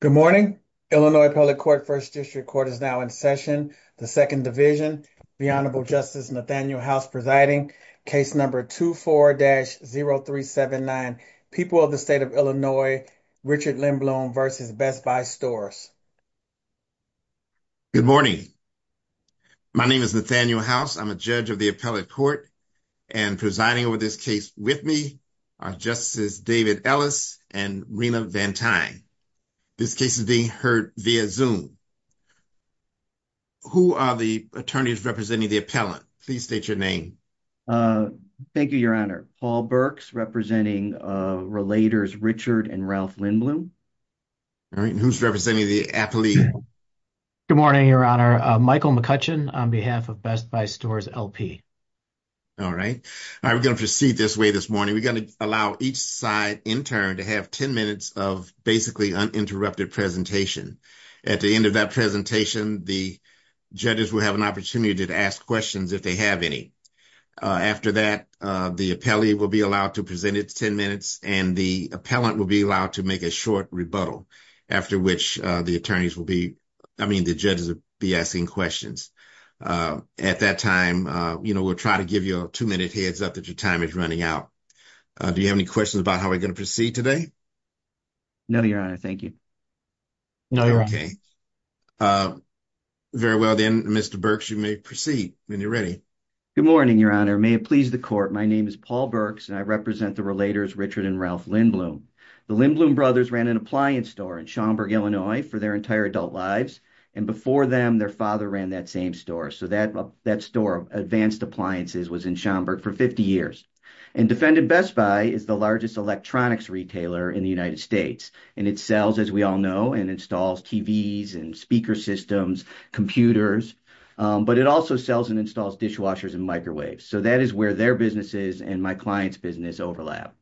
Good morning, Illinois, public court 1st district court is now in session. The 2nd division, the honorable justice Nathaniel house presiding case number 24 dash 0379 people of the state of Illinois. Richard limb loan versus best by stores. Good morning, my name is Nathaniel house. I'm a judge of the appellate court. And presiding over this case with me, our justices, David Ellis and Rena van time. This case is being heard via zoom. Who are the attorneys representing the appellate? Please state your name. Thank you. Your honor, Paul Burks, representing relators, Richard and Ralph Lindblom. All right, who's representing the athlete? Good morning, your honor, Michael McCutcheon on behalf of best by stores LP. All right, I'm going to proceed this way this morning. We're going to allow each side intern to have 10 minutes of basically uninterrupted presentation. At the end of that presentation, the. Judges will have an opportunity to ask questions if they have any. After that, the appellee will be allowed to present its 10 minutes and the appellant will be allowed to make a short rebuttal after which the attorneys will be. I mean, the judges will be asking questions at that time. We'll try to give you a 2 minute heads up that your time is running out. Do you have any questions about how we're going to proceed today? No, your honor. Thank you. No, you're okay. Very well, then Mr Burks, you may proceed when you're ready. Good morning, your honor may please the court. My name is Paul Burks and I represent the relators, Richard and Ralph Lindblom. The Lindblom brothers ran an appliance store in Schaumburg, Illinois for their entire adult lives. And before them, their father ran that same store. So that that store of advanced appliances was in Schaumburg for 50 years. And defendant Best Buy is the largest electronics retailer in the United States. And it sells, as we all know, and installs TVs and speaker systems computers. But it also sells and installs dishwashers and microwaves. So that is where their businesses and my client's business overlap.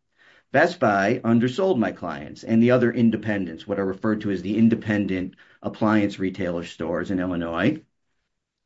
Best Buy undersold my clients and the other independents. What are referred to as the independent appliance retailer stores in Illinois.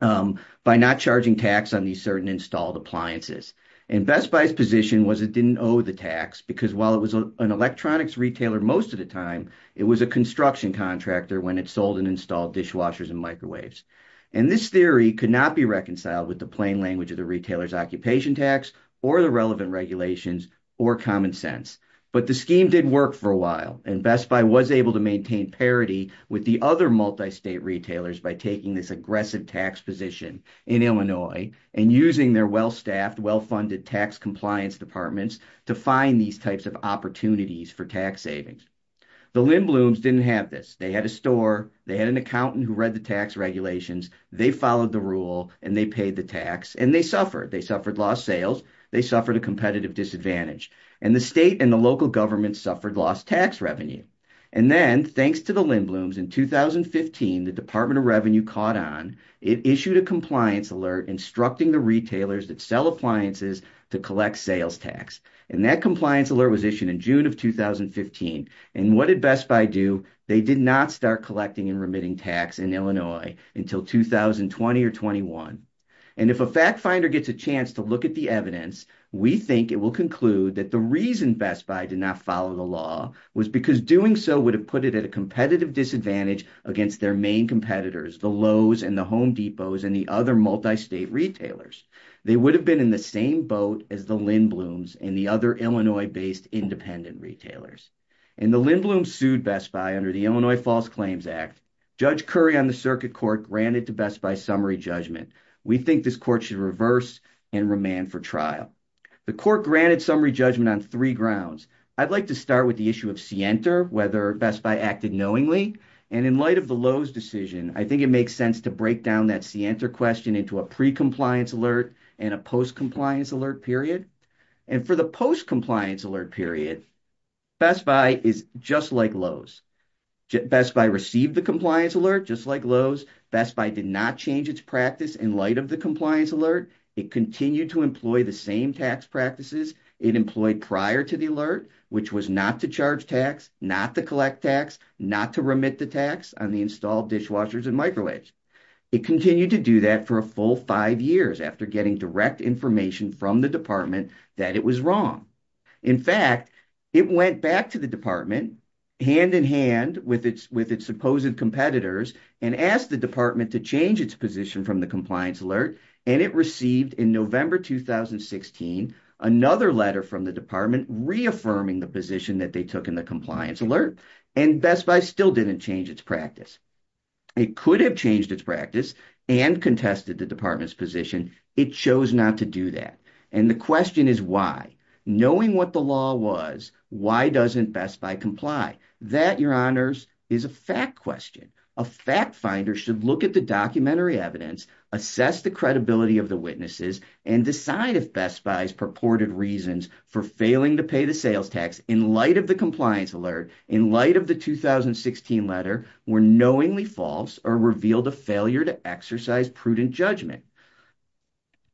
By not charging tax on these certain installed appliances. And Best Buy's position was it didn't owe the tax. Because while it was an electronics retailer, most of the time. It was a construction contractor when it sold and installed dishwashers and microwaves. And this theory could not be reconciled with the plain language of the retailer's occupation tax. Or the relevant regulations or common sense. But the scheme did work for a while. And Best Buy was able to maintain parity with the other multi-state retailers. By taking this aggressive tax position in Illinois. And using their well-staffed, well-funded tax compliance departments. To find these types of opportunities for tax savings. The Lindblom's didn't have this. They had a store. They had an accountant who read the tax regulations. They followed the rule. And they paid the tax. And they suffered. They suffered lost sales. They suffered a competitive disadvantage. And the state and the local government suffered lost tax revenue. And then thanks to the Lindblom's in 2015. The Department of Revenue caught on. It issued a compliance alert. Instructing the retailers that sell appliances to collect sales tax. And that compliance alert was issued in June of 2015. And what did Best Buy do? They did not start collecting and remitting tax in Illinois. Until 2020 or 21. And if a fact finder gets a chance to look at the evidence. We think it will conclude that the reason Best Buy did not follow the law. Was because doing so would have put it at a competitive disadvantage. Against their main competitors. The Lowe's and the Home Depot's. And the other multi-state retailers. They would have been in the same boat as the Lindblom's. And the other Illinois-based independent retailers. And the Lindblom's sued Best Buy under the Illinois False Claims Act. Judge Curry on the circuit court granted to Best Buy summary judgment. We think this court should reverse and remand for trial. The court granted summary judgment on three grounds. I'd like to start with the issue of scienter. Whether Best Buy acted knowingly. And in light of the Lowe's decision. I think it makes sense to break down that scienter question. Into a pre-compliance alert. And a post-compliance alert period. And for the post-compliance alert period. Best Buy is just like Lowe's. Best Buy received the compliance alert. Just like Lowe's. Best Buy did not change its practice. In light of the compliance alert. It continued to employ the same tax practices. It employed prior to the alert. Which was not to charge tax. Not to collect tax. Not to remit the tax. On the installed dishwashers and microwaves. It continued to do that for a full five years. After getting direct information from the department. That it was wrong. In fact. It went back to the department. Hand in hand. With its supposed competitors. And asked the department to change its position. From the compliance alert. And it received in November 2016. Another letter from the department. Reaffirming the position. That they took in the compliance alert. And Best Buy still didn't change its practice. It could have changed its practice. And contested the department's position. It chose not to do that. And the question is why? Knowing what the law was. Why doesn't Best Buy comply? That your honors. Is a fact question. A fact finder should look at the documentary evidence. Assess the credibility of the witnesses. And decide if Best Buy's purported reasons. For failing to pay the sales tax. In light of the compliance alert. In light of the 2016 letter. Were knowingly false. Or revealed a failure to exercise prudent judgment.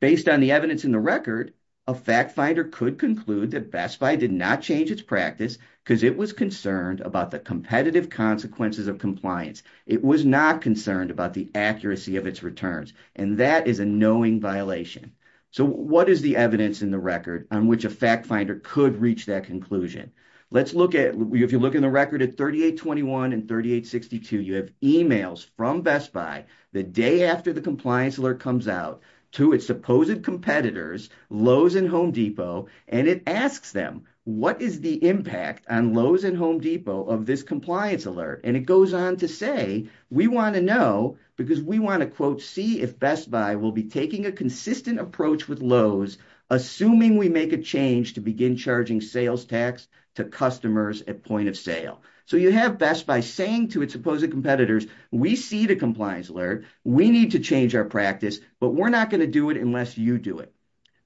Based on the evidence in the record. A fact finder could conclude. That Best Buy did not change its practice. Because it was concerned. About the competitive consequences of compliance. It was not concerned. About the accuracy of its returns. And that is a knowing violation. So what is the evidence in the record? On which a fact finder could reach that conclusion? Let's look at. If you look in the record at 3821 and 3862. You have emails from Best Buy. The day after the compliance alert comes out. To its supposed competitors. Lowe's and Home Depot. And it asks them. What is the impact on Lowe's and Home Depot. Of this compliance alert? And it goes on to say. We want to know. Because we want to quote. See if Best Buy will be taking. A consistent approach with Lowe's. Assuming we make a change. To begin charging sales tax. To customers at point of sale. So you have Best Buy saying. To its supposed competitors. We see the compliance alert. We need to change our practice. But we're not going to do it. Unless you do it.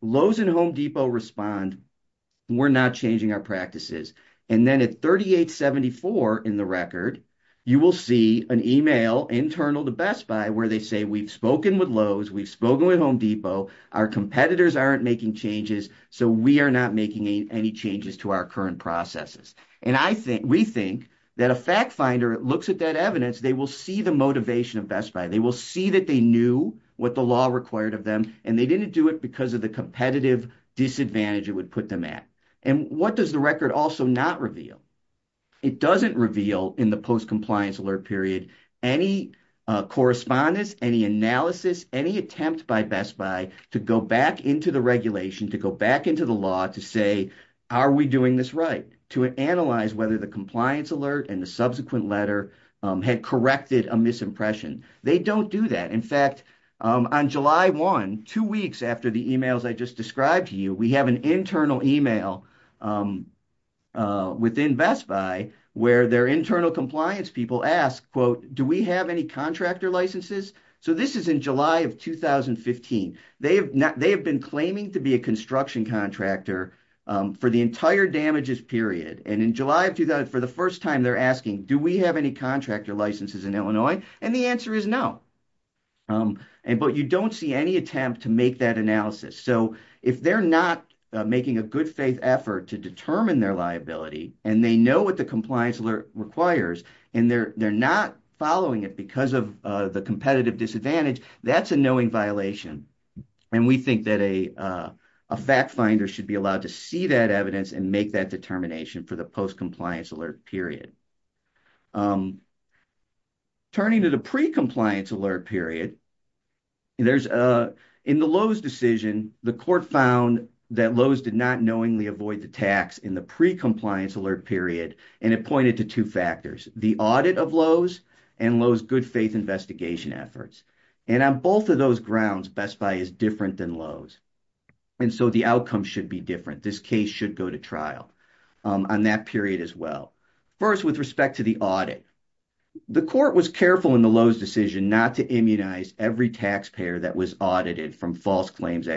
Lowe's and Home Depot respond. We're not changing our practices. And then at 3874 in the record. You will see an email. Internal to Best Buy. Where they say. We've spoken with Lowe's. We've spoken with Home Depot. Our competitors aren't making changes. So we are not making any changes. To our current processes. And I think. We think. That a fact finder. Looks at that evidence. They will see the motivation of Best Buy. They will see that they knew. What the law required of them. And they didn't do it. Because of the competitive disadvantage. It would put them at. And what does the record. Also not reveal. It doesn't reveal. In the post compliance alert period. Any correspondence. Any analysis. Any attempt by Best Buy. To go back into the regulation. To go back into the law. To say. Are we doing this right? To analyze. Whether the compliance alert. And the subsequent letter. Had corrected a misimpression. They don't do that. In fact. On July 1. Two weeks after the emails. I just described to you. We have an internal email. Within Best Buy. Where their internal compliance. People ask. Quote. Do we have any contractor licenses? So this is in July of 2015. They have not. They have been claiming. To be a construction contractor. For the entire damages period. And in July of 2000. For the first time. They're asking. Do we have any contractor licenses in Illinois? And the answer is no. Um, and. But you don't see any attempt. To make that analysis. So if they're not. Making a good faith effort. To determine their liability. And they know what. The compliance alert requires. And they're, they're not following it. Because of the competitive disadvantage. That's a knowing violation. And we think that a. A fact finder should be allowed. To see that evidence. And make that determination. For the post compliance alert period. Um, turning to the. Pre-compliance alert period. There's a. In the Lowe's decision. The court found. That Lowe's did not knowingly. Avoid the tax in the. Pre-compliance alert period. And it pointed to 2 factors. The audit of Lowe's. And Lowe's good faith investigation efforts. And on both of those grounds. Best Buy is different than Lowe's. And so the outcome should be different. This case should go to trial. On that period as well. First, with respect to the audit. The court was careful. In the Lowe's decision. Not to immunize every taxpayer. That was audited from false claims.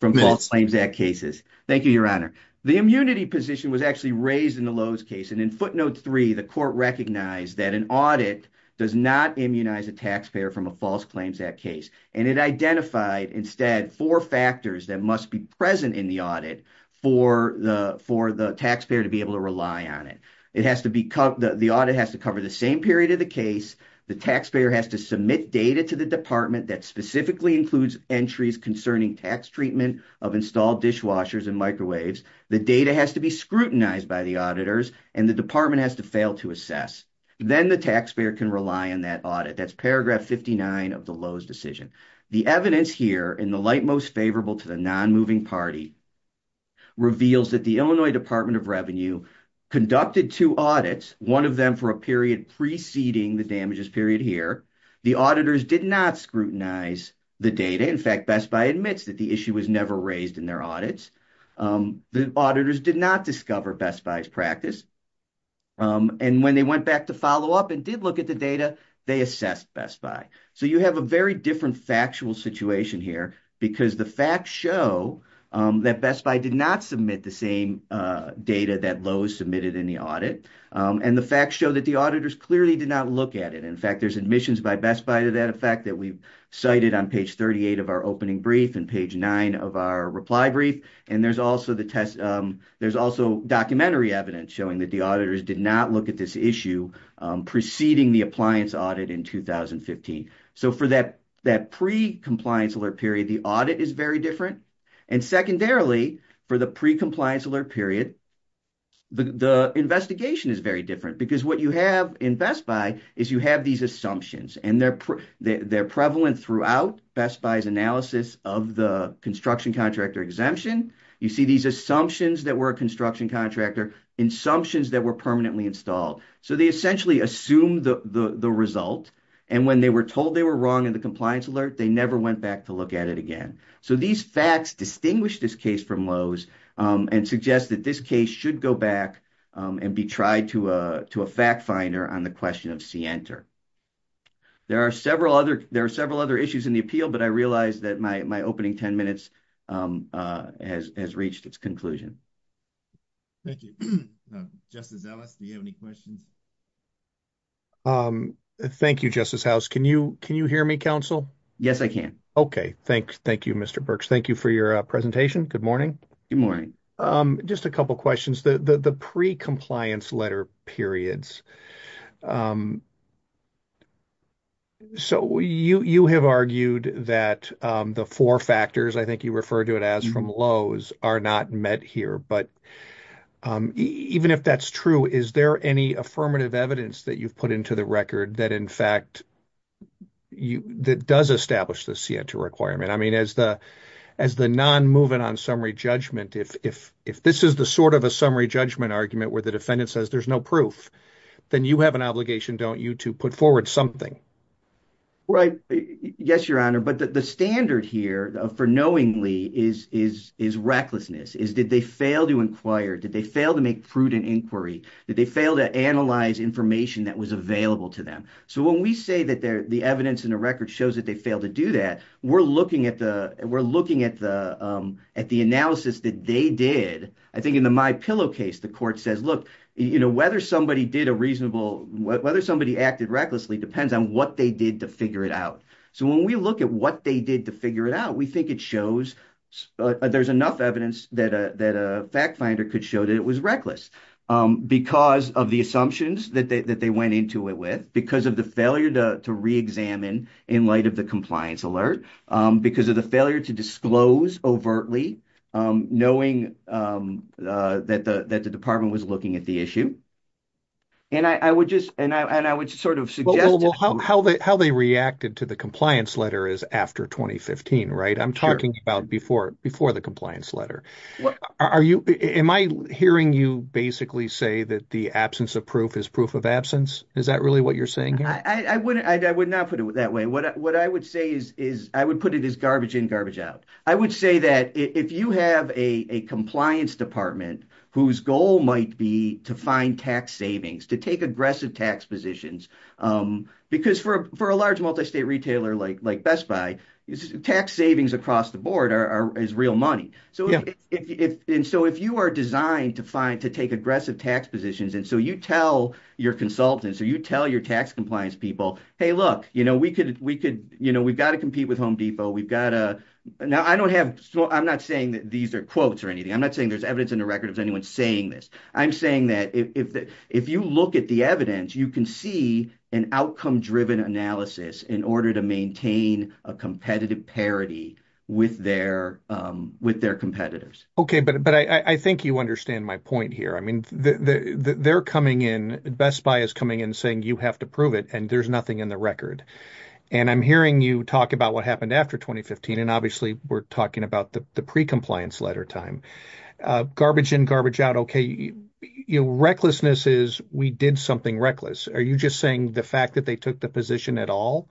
From false claims at cases. Thank you, your honor. The immunity position. Was actually raised in the Lowe's case. And in footnote 3. The court recognized. That an audit. Does not immunize a taxpayer. From a false claims at case. And it identified. Instead, 4 factors. That must be present in the audit. For the, for the taxpayer. To be able to rely on it. It has to be cut. The audit has to cover. The same period of the case. The taxpayer has to submit. Data to the department. That specifically includes. Entries concerning tax treatment. Of installed dishwashers. And microwaves. The data has to be scrutinized. By the auditors. And the department. Has to fail to assess. Then the taxpayer. Can rely on that audit. That's paragraph 59. Of the Lowe's decision. The evidence here. In the light most favorable. To the non-moving party. Reveals that the Illinois. Department of Revenue. Conducted 2 audits. 1 of them for a period. Preceding the damages. Period here. The auditors did not. Scrutinize the data. In fact, Best Buy admits. That the issue was never. Raised in their audits. The auditors did not. Discover Best Buy's practice. And when they went back. To follow up. And did look at the data. They assessed Best Buy. So you have a very different. Factual situation here. Because the facts show. That Best Buy did not submit. The same data. That Lowe's submitted. In the audit. And the facts show. That the auditors. Clearly did not look at it. In fact, there's admissions. By Best Buy. To that effect. That we've cited. On page 38. Of our opening brief. And page 9. Of our reply brief. And there's also the test. There's also documentary evidence. Showing that the auditors. Did not look at this issue. Preceding the appliance. Audit in 2015. So for that. That pre-compliance alert period. The audit is very different. And secondarily. For the pre-compliance alert period. The investigation is very different. Because what you have. In Best Buy. Is you have these assumptions. And they're prevalent throughout. Best Buy's analysis. Of the construction contractor exemption. You see these assumptions. That were a construction contractor. In assumptions. That were permanently installed. So they essentially. Assume the result. And when they were told. They were wrong. In the compliance alert. They never went back. To look at it again. So these facts. Distinguish this case from Lowe's. And suggest that this case. Should go back. And be tried to a. To a fact finder. On the question of CNTR. There are several other. There are several other issues. In the appeal. But I realize that. My opening 10 minutes. Has reached its conclusion. Thank you. Justice Ellis. Do you have any questions? Thank you. Justice House. Can you. Can you hear me counsel? Yes, I can. Thanks. Thank you. Mr Burks. Thank you for your presentation. Good morning. Good morning. Just a couple questions. The pre-compliance letter periods. So you have argued. That the four factors. I think you refer to it. As from Lowe's. Are not met here. But even if that's true. Is there any affirmative evidence. That you've put into the record. That in fact. That does establish. The CNTR requirement. I mean as the. As the non moving on summary judgment. If this is the sort of. A summary judgment argument. Where the defendant says there's no proof. Then you have an obligation. Don't you to put forward something. Right. Yes, your honor. But the standard here. For knowingly. Is recklessness. Is did they fail to inquire. Did they fail to make prudent inquiry. Did they fail to analyze information. That was available to them. So when we say that. The evidence in the record. Shows that they fail to do that. We're looking at the. We're looking at the. At the analysis that they did. I think in the my pillow case. The court says. Look you know. Whether somebody did a reasonable. Whether somebody acted recklessly. Depends on what they did to figure it out. So when we look at. What they did to figure it out. We think it shows. There's enough evidence. That a fact finder. Could show that it was reckless. Because of the assumptions. That they went into it with. Because of the failure. To re-examine. In light of the compliance alert. Because of the failure. To disclose overtly. Knowing that the department. Was looking at the issue. And I would just. And I would sort of suggest. Well how they reacted. To the compliance letter. Is after 2015 right. I'm talking about before. Before the compliance letter. Are you. Am I hearing you basically. Say that the absence of proof. Is proof of absence. Is that really what you're saying here. I wouldn't. I would not put it that way. What I would say is. I would put it as garbage in. Garbage out. I would say that. If you have a compliance department. Whose goal might be. To find tax savings. To take aggressive tax positions. Because for a large. Multi-state retailer. Like Best Buy. Tax savings across the board. Are is real money. So if. And so if you are designed. To find. To take aggressive tax positions. And so you tell. Your consultants. Or you tell your tax compliance people. Hey look. You know. We could. We could. You know. We've got to compete with Home Depot. We've got to. Now I don't have. I'm not saying that. These are quotes or anything. I'm not saying. There's evidence in the record. Is anyone saying this. I'm saying that. If you look at the evidence. You can see. An outcome driven analysis. In order to maintain. A competitive parity. With their. With their competitors. Okay. But I think you understand. My point here. I mean they're coming in. Best Buy is coming in. Saying you have to prove it. And there's nothing in the record. And I'm hearing you. Talk about what happened. After 2015. And obviously. We're talking about. The pre-compliance letter time. Garbage in. Garbage out. You know. Recklessness is. We did something reckless. Are you just saying. The fact that they took. The position at all.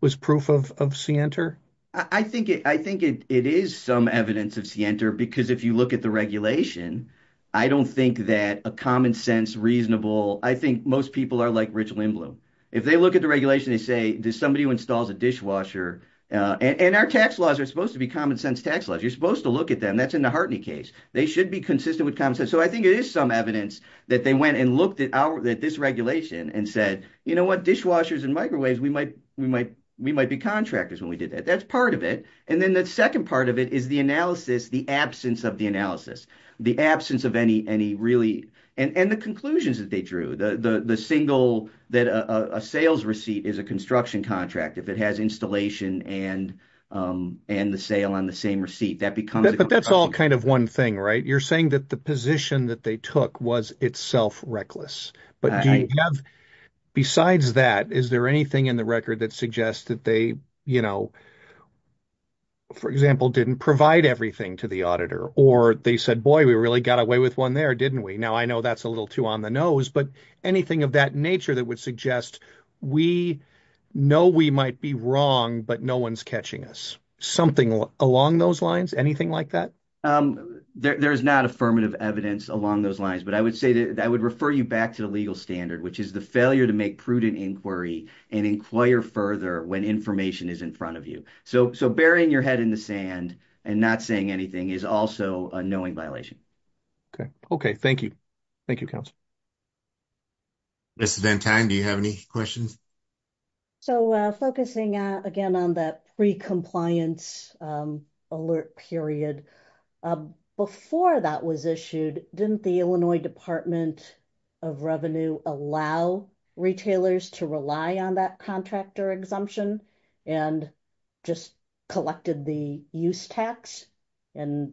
Was proof of. Of Sienter. I think. I think it is. Some evidence of Sienter. Because if you look at the regulation. I don't think that. A common sense. I think most people. Are like Rich Lindblom. If they look at the regulation. They say. Does somebody who installs. A dishwasher. And our tax laws. Are supposed to be. Common sense tax laws. You're supposed to look at them. That's in the Hartney case. They should be consistent. With common sense. So I think it is some evidence. That they went. And looked at our. This regulation. And said. You know what. Dishwashers and microwaves. We might. We might. We might be contractors. When we did that. That's part of it. And then the second part of it. Is the analysis. The absence of the analysis. The absence of any. Any really. And the conclusions. That they drew. The single. That a sales receipt. Is a construction contract. If it has installation. And and the sale. On the same receipt. That becomes. But that's all. Kind of one thing right. You're saying. That the position. That they took. Was itself reckless. But do you have. Besides that. Is there anything. In the record. That suggests. That they you know. For example. Didn't provide everything. To the auditor. Or they said. Boy we really got away. With one there didn't we. Now I know. That's a little too. On the nose. But anything. Of that nature. That would suggest. We know. We might be wrong. But no one's catching us. Something along those lines. Anything like that. There's not affirmative. Evidence along those lines. But I would say that. I would refer you back. To the legal standard. Which is the failure. To make prudent inquiry. And inquire further. When information is in front of you. So so burying your head. In the sand. And not saying anything. Is also a knowing violation. Okay okay. Thank you. Thank you counsel. This is in time. Do you have any questions? So focusing again. On that pre-compliance. Alert period. Before that was issued. Didn't the Illinois department. Of revenue allow. Retailers to rely. On that contractor exemption. And just collected. The use tax. And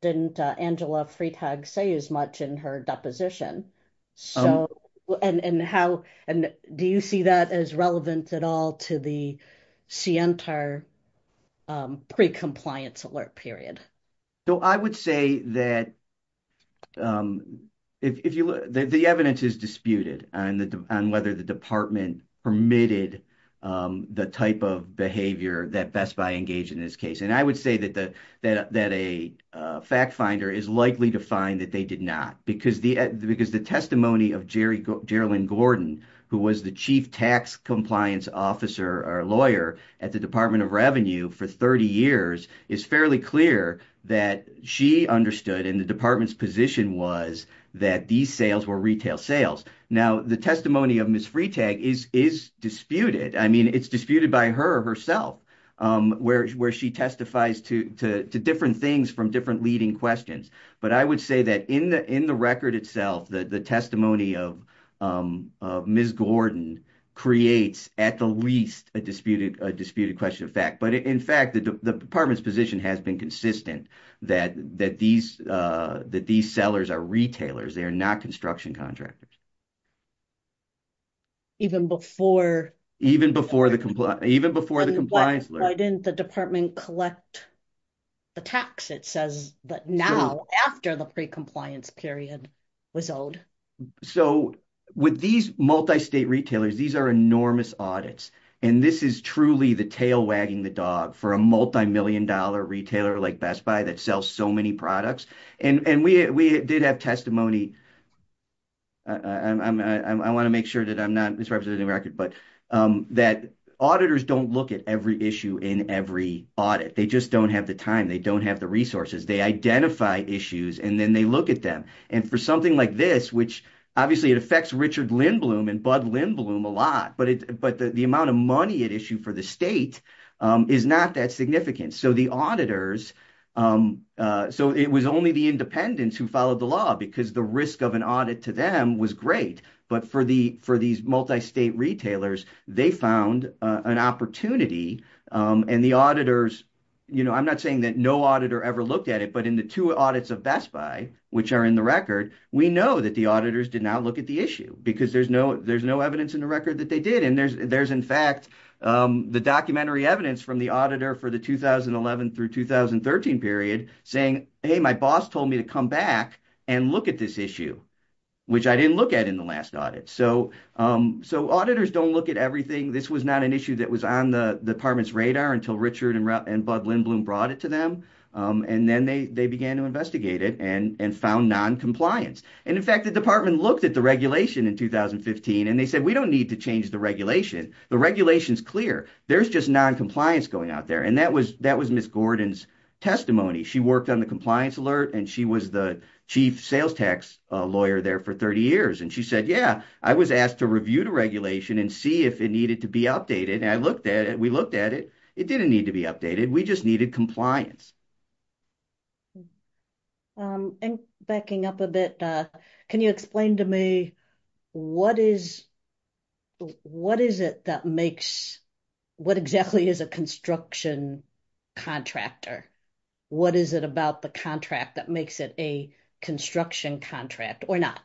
didn't Angela Freitag. Say as much in her deposition. So and and how. And do you see that. As relevant at all. To the Sientar. Pre-compliance alert period. So I would say that. If you look. The evidence is disputed. On the on whether the department. Permitted the type of behavior. That Best Buy engaged in this case. And I would say that the. That that a fact finder. Is likely to find that they did not. Because the because the. Testimony of Jerry. Geraldine Gordon. Who was the chief tax. Compliance officer or lawyer. At the Department of Revenue. For 30 years. Is fairly clear. That she understood. In the department's position. Was that these sales. Were retail sales. Now the testimony of Miss Freitag. Is is disputed. I mean it's disputed. By her herself. Where where she testifies. To to to different things. From different leading questions. But I would say that. In the record itself. That the testimony of. Miss Gordon creates. At the least a disputed. A disputed question of fact. But in fact the department's. Position has been consistent. That that these that these. Sellers are retailers. They are not construction contractors. Even before even before. The even before the compliance. Why didn't the department collect. The tax it says that now. After the pre compliance. Period was old. So with these. Multi-state retailers. These are enormous audits. And this is truly. The tail wagging the dog. For a multi-million dollar. Retailer like Best Buy. That sells so many products. And and we we did have testimony. I want to make sure that. I'm not misrepresenting record. But that auditors. Don't look at every issue. In every audit. They just don't have the time. They don't have the resources. They identify issues. And then they look at them. And for something like this. Which obviously it affects. Richard Lindblom. And Bud Lindblom a lot. But but the amount of money. It issued for the state. Is not that significant. So the auditors. So it was only the. Independents who followed the law. Because the risk of an audit. To them was great. But for the for these. Multi-state retailers. They found an opportunity. And the auditors. You know I'm not saying. That no auditor ever looked at it. But in the two audits of Best Buy. Which are in the record. We know that the auditors. Did not look at the issue. Because there's no. There's no evidence in the record. That they did. And there's there's in fact. The documentary evidence. From the auditor. For the 2011 through 2013 period. Saying hey my boss told me. To come back. And look at this issue. Which I didn't look at. In the last audit. So so auditors. Don't look at everything. This was not an issue. That was on the department's radar. Until Richard and. Bud Lindblom brought it to them. And then they they began. To investigate it. And and found non-compliance. And in fact the department. Looked at the regulation in 2015. And they said we don't need. To change the regulation. The regulation is clear. There's just non-compliance. Going out there. And that was that was. Miss Gordon's testimony. She worked on the compliance alert. And she was the chief sales tax. Lawyer there for 30 years. And she said yeah. I was asked to review the regulation. And see if it needed to be updated. And I looked at it. We looked at it. It didn't need to be updated. We just needed compliance. And backing up a bit. Can you explain to me. What is. What is it that makes. What exactly is a construction. Contractor. What is it about the contract. That makes it a construction. Contract or not.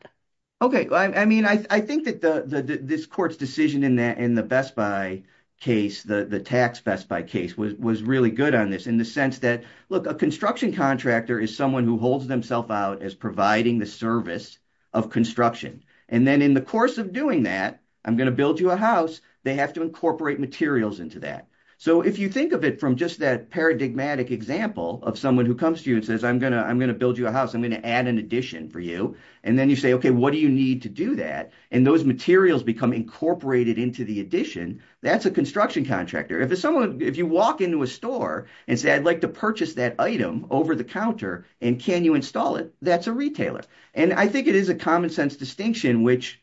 Okay, I mean, I think that. This court's decision in that. In the Best Buy case. The tax Best Buy case. Was really good on this. In the sense that. Look, a construction contractor. Is someone who holds themselves out. As providing the service. Of construction. And then in the course of doing that. I'm going to build you a house. They have to incorporate materials into that. So if you think of it. From just that paradigmatic example. Of someone who comes to you and says. I'm going to. I'm going to build you a house. I'm going to add an addition for you. And then you say, okay. What do you need to do that? And those materials become. Incorporated into the addition. That's a construction contractor. If you walk into a store. And say, I'd like to purchase that item. Over the counter. And can you install it? That's a retailer. And I think it is a common sense distinction. Which.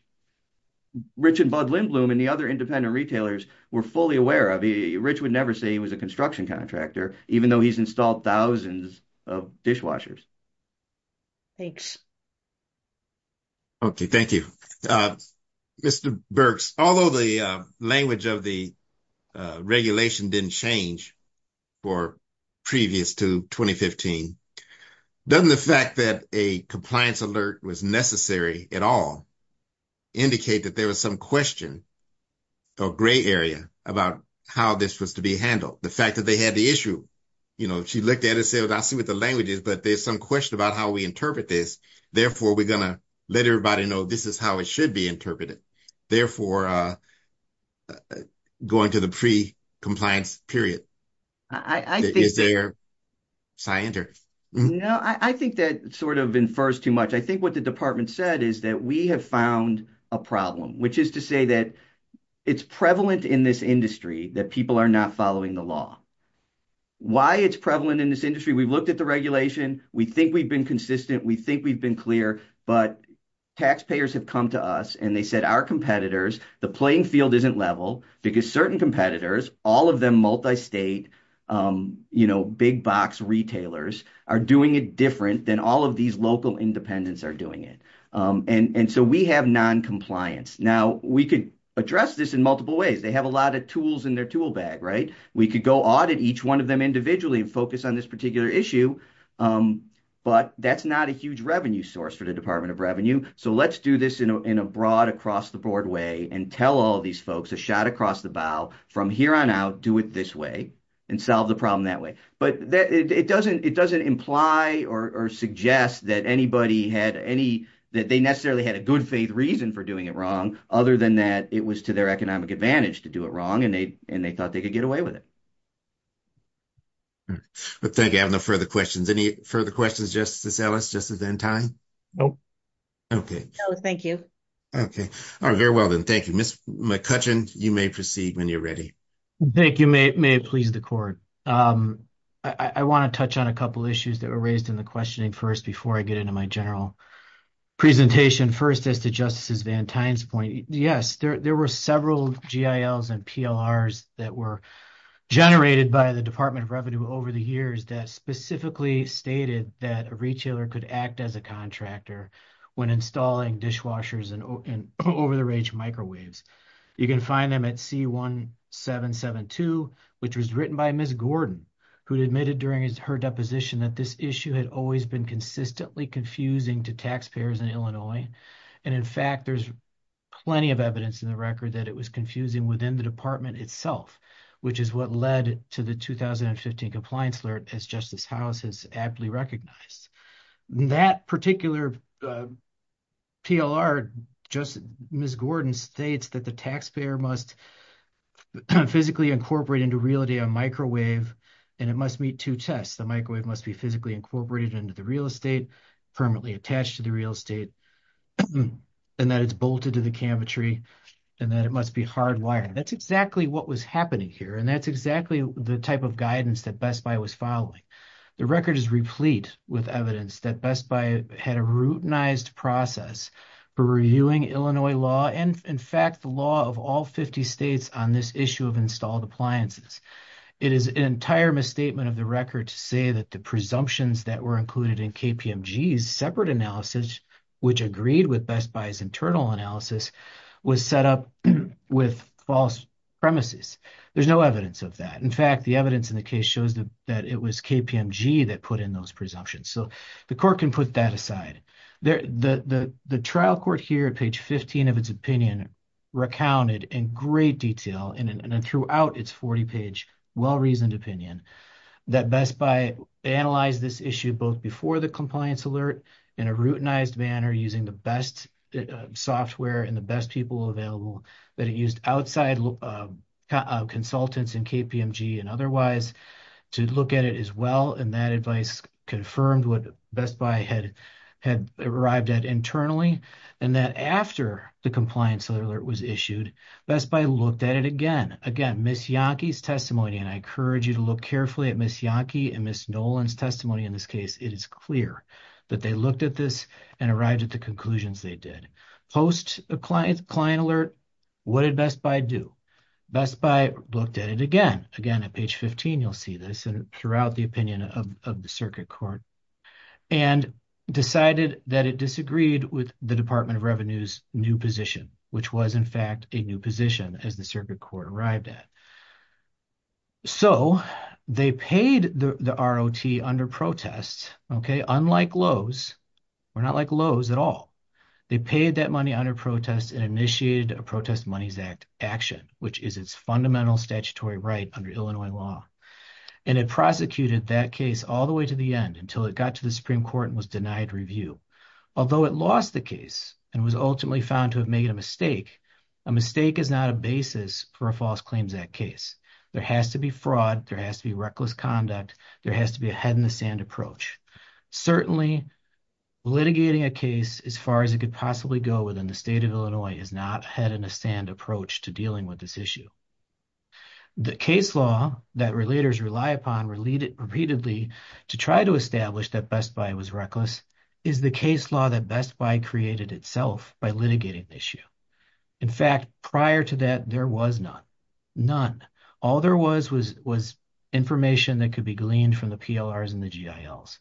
Rich and Bud Lindblom. And the other independent retailers. Were fully aware of. Rich would never say. He was a construction contractor. Even though he's installed. Thousands of dishwashers. Thanks. Okay, thank you. Mr Burks. Although the language of the. Regulation didn't change. For previous to 2015. Doesn't the fact that. A compliance alert was necessary at all. Indicate that there was some question. Or gray area. About how this was to be handled. The fact that they had the issue. You know, she looked at it. Said, I see what the language is. But there's some question. About how we interpret this. Therefore, we're going to. Let everybody know. This is how it should be interpreted. Therefore. Going to the pre compliance period. I think they're. Scientists. No, I think that sort of. In first too much. I think what the department said. Is that we have found a problem. Which is to say that. It's prevalent in this industry. That people are not following the law. Why it's prevalent in this industry. We've looked at the regulation. We think we've been consistent. We think we've been clear. But. Taxpayers have come to us. And they said our competitors. The playing field isn't level. Because certain competitors. All of them, multi-state. You know, big box retailers. Are doing it different. Than all of these local. Independents are doing it. And so we have non-compliance. Now we could. Address this in multiple ways. They have a lot of tools. In their tool bag, right? We could go audit. Each one of them individually. And focus on this particular issue. But that's not a huge revenue source. For the Department of Revenue. So let's do this. In a broad, across the board way. And tell all these folks. A shot across the bow. From here on out. Do it this way. And solve the problem that way. But it doesn't imply. Or suggest. That anybody had any. That they necessarily had. A good faith reason. For doing it wrong. Other than that. It was to their economic advantage. To do it wrong. And they thought. They could get away with it. But thank you. I have no further questions. Any further questions. Justice Ellis? Justice Ventai? Nope. Thank you. Okay. All right. Very well then. Thank you. Ms. McCutcheon. You may proceed. When you're ready. Thank you. May it please the court. I want to touch on a couple issues. That were raised in the questioning. Before I get into my general presentation. First as to Justice Ventai's point. Yes. There were several GILs. And PLRs. That were generated. By the Department of Revenue. Over the years. That specifically stated. That a retailer. Could act as a contractor. When installing dishwashers. And over the range microwaves. You can find them at C1772. Which was written by Ms. Gordon. Who admitted during her deposition. That this issue had always been. Consistently confusing to taxpayers in Illinois. And in fact. There's plenty of evidence in the record. That it was confusing within the department itself. Which is what led to the 2015 compliance alert. As Justice House has aptly recognized. That particular PLR. Ms. Gordon states. That the taxpayer must physically incorporate. Into reality a microwave. And it must meet two tests. The microwave must be physically incorporated. Into the real estate. Permanently attached to the real estate. And that it's bolted to the cabinetry. And that it must be hardwired. That's exactly what was happening here. And that's exactly the type of guidance. That Best Buy was following. The record is replete with evidence. That Best Buy had a routinized process. For reviewing Illinois law. And in fact the law of all 50 states. On this issue of installed appliances. It is an entire misstatement of the record. To say that the presumptions. That were included in KPMG's separate analysis. Which agreed with Best Buy's internal analysis. Was set up with false premises. There's no evidence of that. In fact the evidence in the case. That it was KPMG that put in those presumptions. So the court can put that aside. The trial court here at page 15 of its opinion. Recounted in great detail. And throughout its 40 page well-reasoned opinion. That Best Buy analyzed this issue. Both before the compliance alert. In a routinized manner. Using the best software. And the best people available. That it used outside consultants. In KPMG and otherwise. To look at it as well. And that advice confirmed. What Best Buy had arrived at internally. And that after the compliance alert was issued. Best Buy looked at it again. Again Miss Yonke's testimony. And I encourage you to look carefully. At Miss Yonke and Miss Nolan's testimony. In this case it is clear. That they looked at this. And arrived at the conclusions they did. Post a client alert. What did Best Buy do? Best Buy looked at it again. Again at page 15 you'll see this. And throughout the opinion of the circuit court. And decided that it disagreed. With the Department of Revenue's new position. Which was in fact a new position. As the circuit court arrived at. So they paid the ROT under protest. Okay unlike Lowe's. Or not like Lowe's at all. They paid that money under protest. And initiated a protest monies act action. Which is its fundamental statutory right. Under Illinois law. And it prosecuted that case. All the way to the end. Until it got to the Supreme Court. And was denied review. Although it lost the case. And was ultimately found to have made a mistake. A mistake is not a basis. For a false claims act case. There has to be fraud. There has to be reckless conduct. There has to be a head in the sand approach. Certainly litigating a case. As far as it could possibly go. Within the state of Illinois. Is not a head in the sand approach. To dealing with this issue. The case law that relators rely upon. Repeatedly to try to establish. That Best Buy was reckless. Is the case law that Best Buy created itself. By litigating the issue. In fact prior to that. There was none. None. All there was. Was information that could be gleaned. From the PLRs and the GILs.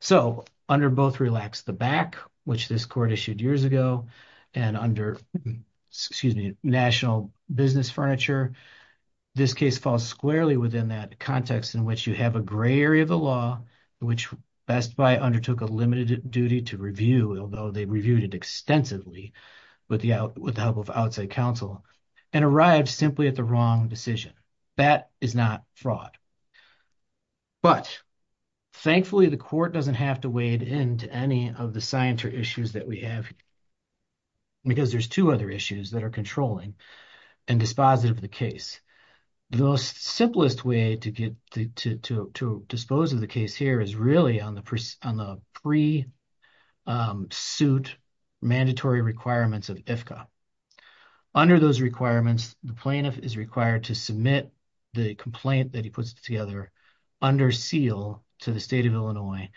So under both Relax the Back. Which this court issued years ago. And under excuse me. Business Furniture. This case falls squarely. Within that context. In which you have a gray area of the law. Which Best Buy undertook. A limited duty to review. Although they reviewed it extensively. With the help of outside counsel. And arrived simply at the wrong decision. That is not fraud. But thankfully the court. Doesn't have to wade into any. Of the scientific issues that we have. Because there's two other issues. That are controlling. And dispositive of the case. The most simplest way. To get to dispose of the case here. Is really on the pre-suit. Mandatory requirements of IFCA. Under those requirements. The plaintiff is required to submit. The complaint that he puts together. Under seal to the state of Illinois.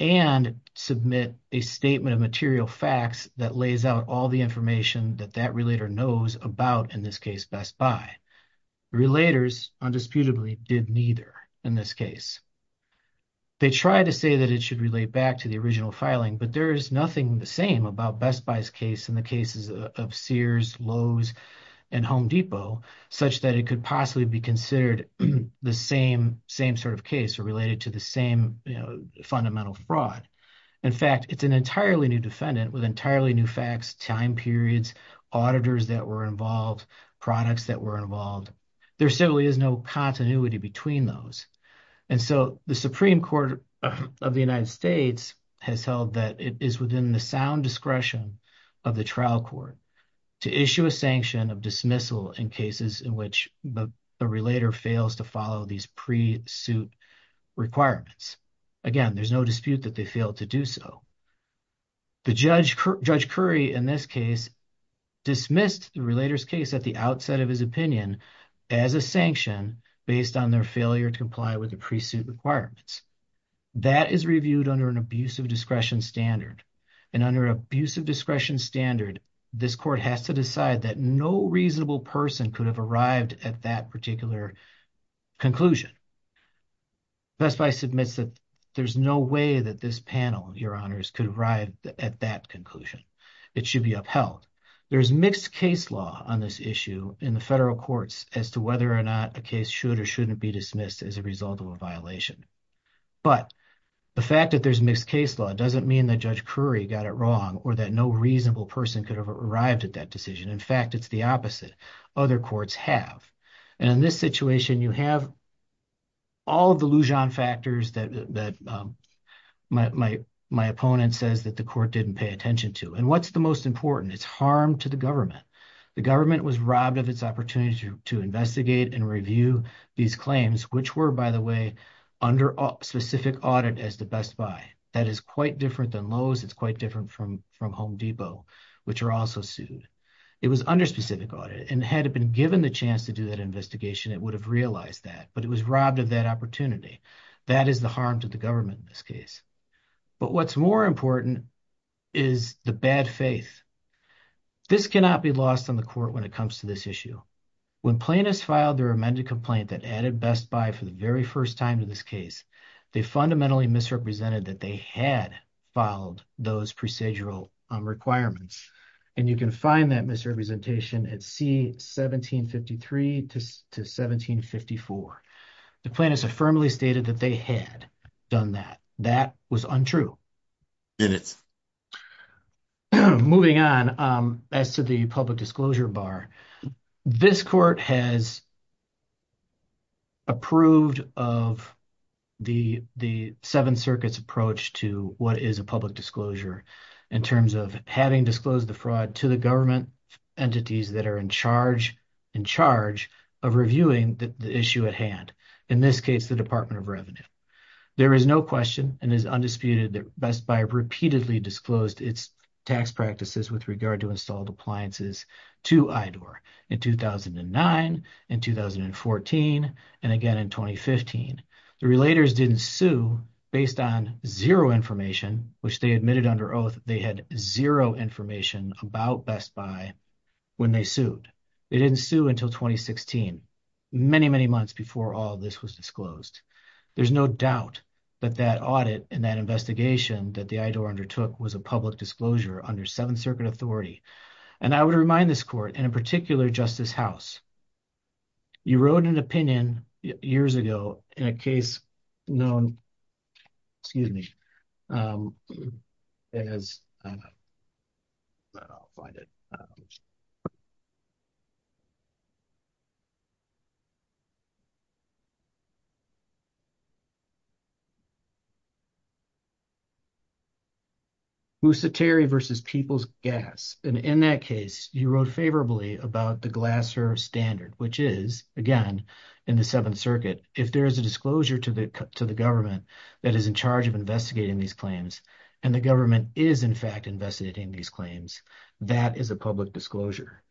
And submit a statement of material facts. That lays out all the information. That that relator knows about. In this case Best Buy. Relators. Undisputably did neither. In this case. They try to say that it should relate. Back to the original filing. But there is nothing the same. About Best Buy's case. In the cases of Sears. Lowe's and Home Depot. Such that it could possibly be considered. The same sort of case. Or related to the same. Fundamental fraud. In fact it's an entirely new defendant. With entirely new facts. Time periods. Auditors that were involved. Products that were involved. There certainly is no continuity. Between those. And so the Supreme Court. Of the United States. Has held that it is within. The sound discretion. Of the trial court. To issue a sanction of dismissal. In cases in which. The relator fails to follow. These pre-suit requirements. Again there's no dispute. That they fail to do so. The judge. Judge Curry. In this case. Dismissed the relator's case. At the outset of his opinion. As a sanction. Based on their failure. To comply with the pre-suit requirements. That is reviewed under. An abusive discretion standard. And under abusive discretion standard. This court has to decide. That no reasonable person. Could have arrived. At that particular conclusion. Best Buy submits. That there's no way. That this panel. Your honors could arrive. At that conclusion. It should be upheld. There's mixed case law. On this issue. In the federal courts. As to whether or not. A case should. Or shouldn't be dismissed. As a result of a violation. But the fact. That there's mixed case law. Doesn't mean that. Judge Curry got it wrong. Or that no reasonable person. Could have arrived at that decision. In fact it's the opposite. Other courts have. And in this situation you have. All of the Lujan factors. That that. My my opponent says. That the court didn't pay attention to. And what's the most important. It's harm to the government. The government was robbed. Of its opportunity to investigate. And review these claims. Which were by the way. Under specific audit. As the Best Buy. That is quite different than Lowe's. It's quite different from. From Home Depot. Which are also sued. It was under specific audit. And had it been given the chance. To do that investigation. It would have realized that. But it was robbed of that opportunity. That is the harm. To the government in this case. But what's more important. Is the bad faith. This cannot be lost on the court. When it comes to this issue. When plaintiffs filed. Their amended complaint. That added Best Buy. For the very first time to this case. They fundamentally misrepresented. That they had filed. Those procedural requirements. And you can find that misrepresentation. At C1753 to 1754. The plaintiffs have firmly stated. That they had done that. That was untrue. Did it? Moving on. As to the public disclosure bar. This court has. Approved of the. The Seventh Circuit's approach. To what is a public disclosure. In terms of having disclosed the fraud. To the government entities. That are in charge. In charge. Of reviewing the issue at hand. In this case. The Department of Revenue. There is no question. And is undisputed. That Best Buy repeatedly. Disclosed its tax practices. With regard to installed appliances. To IDOR. In 2009. In 2014. And again in 2015. The relators didn't sue. Based on zero information. Which they admitted under oath. They had zero information. About Best Buy. When they sued. They didn't sue until 2016. Many, many months. Before all this was disclosed. There's no doubt. That that audit. And that investigation. That the IDOR undertook. Was a public disclosure. Under Seventh Circuit authority. And I would remind this court. And in particular Justice House. You wrote an opinion. Years ago. In a case known. Excuse me. As. I'll find it. Musateri versus People's Gas. And in that case. You wrote favorably. About the Glasser Standard. Which is. Again. In the Seventh Circuit. If there is a disclosure. To the government. That is in charge of investigating. These claims. And the government. Is in fact investigating. These claims. That is a public disclosure.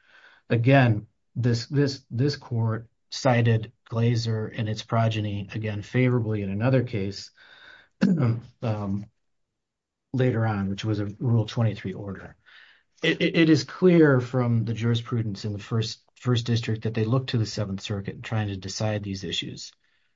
Again. This court. Cited. Glaser. And its progeny. Again favorably. In another case. Later on. Which was a Rule 23 order. It is clear. From the jurisprudence. In the first. First district. That they look to the Seventh Circuit. Trying to decide these issues.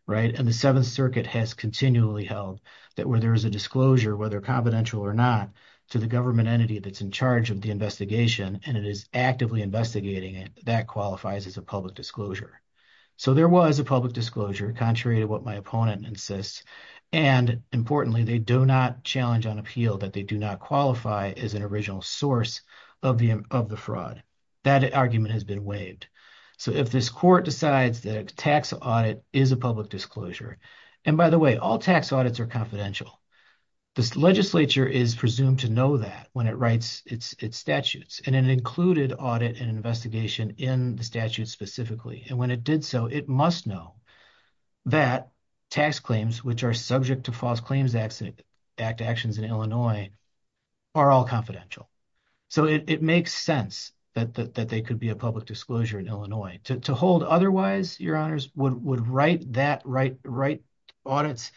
Right. And the Seventh Circuit. Has continually held. That where there is a disclosure. Whether confidential or not. To the government entity. That's in charge of the investigation. And it is actively investigating. That qualifies as a public disclosure. So there was a public disclosure. Contrary to what my opponent insists. And importantly. They do not challenge on appeal. That they do not qualify. As an original source. Of the of the fraud. That argument has been waived. So if this court decides. That a tax audit. Is a public disclosure. And by the way. All tax audits are confidential. This legislature. Is presumed to know that. When it writes its statutes. And it included. Audit and investigation. In the statute specifically. And when it did so. It must know. That tax claims. Which are subject. To false claims accident. Act actions in Illinois. Are all confidential. So it makes sense. That that they could be. A public disclosure in Illinois. To hold otherwise. Your honors would write. That right right audits.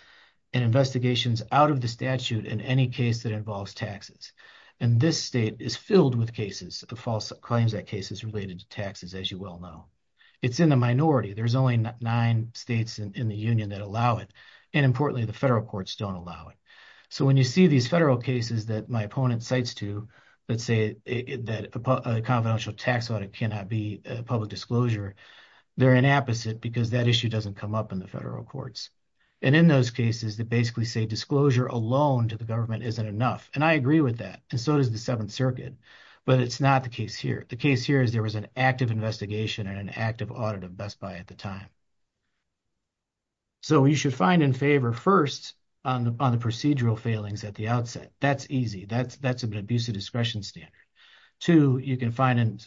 And investigations out of the statute. In any case that involves taxes. And this state. Is filled with cases. The false claims that cases. Related to taxes. As you well know. It's in the minority. There's only nine states. In the union that allow it. And importantly. The federal courts don't allow it. So when you see these federal cases. That my opponent cites to. Let's say that a confidential tax audit. Cannot be a public disclosure. They're an apposite. Because that issue doesn't come up. In the federal courts. And in those cases. That basically say disclosure alone. To the government isn't enough. And I agree with that. So does the seventh circuit. But it's not the case here. The case here is. There was an active investigation. And an active audit of Best Buy. At the time. So you should find in favor. First on the procedural failings. At the outset. That's easy. That's that's an abusive. Discretion standard. Two you can find in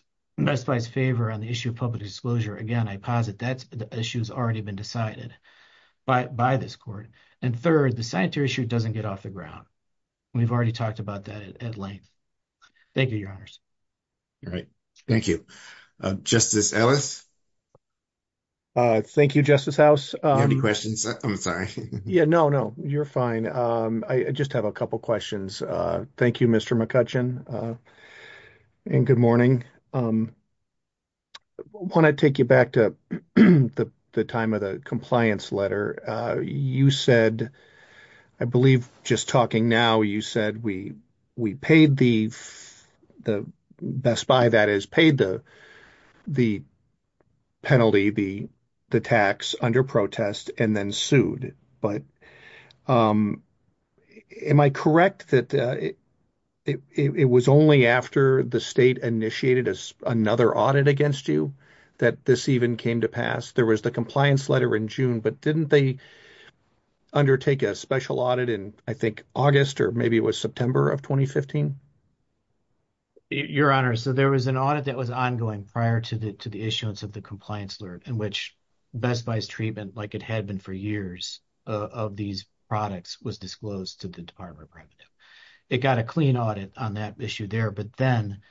Best Buy's favor. On the issue of public disclosure. Again I posit that. The issue has already been decided. By this court. And third the sanitary issue. Doesn't get off the ground. We've already talked about that. At length. Thank you your honors. All right. Thank you. Justice Ellis. Thank you Justice House. Any questions? I'm sorry. Yeah no no. You're fine. I just have a couple questions. Thank you Mr McCutcheon. And good morning. Want to take you back to. The time of the compliance letter. You said. I believe just talking now. You said we. We paid the. The Best Buy that is paid the. Penalty the. The tax under protest. And then sued. Am I correct that. It was only after. The state initiated. Another audit against you. That this even came to pass. There was the compliance letter in June. But didn't they. Undertake a special audit. In I think August. Maybe it was September of 2015. Your honor. So there was an audit that was. Ongoing prior to the issuance. Of the compliance alert. In which Best Buy's treatment. Like it had been for years. Of these products. Was disclosed to the department. It got a clean audit. On that issue there. But then.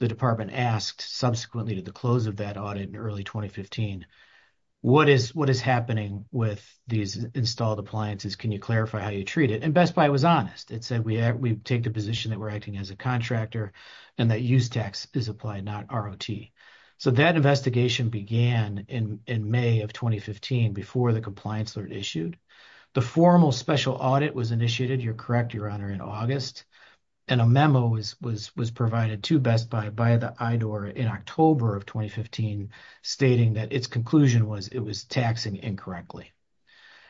The department asked. Subsequently to the close. Of that audit in early 2015. What is what is happening. With these installed appliances. Can you clarify how you treat it. And Best Buy was honest. We take the position. That we're acting as a contractor. And that use tax is applied. Not ROT. So that investigation began. In May of 2015. Before the compliance alert issued. The formal special audit was initiated. You're correct. Your honor. In August. And a memo was provided. To Best Buy by the IDOR. In October of 2015. Stating that its conclusion. Was it was taxing incorrectly.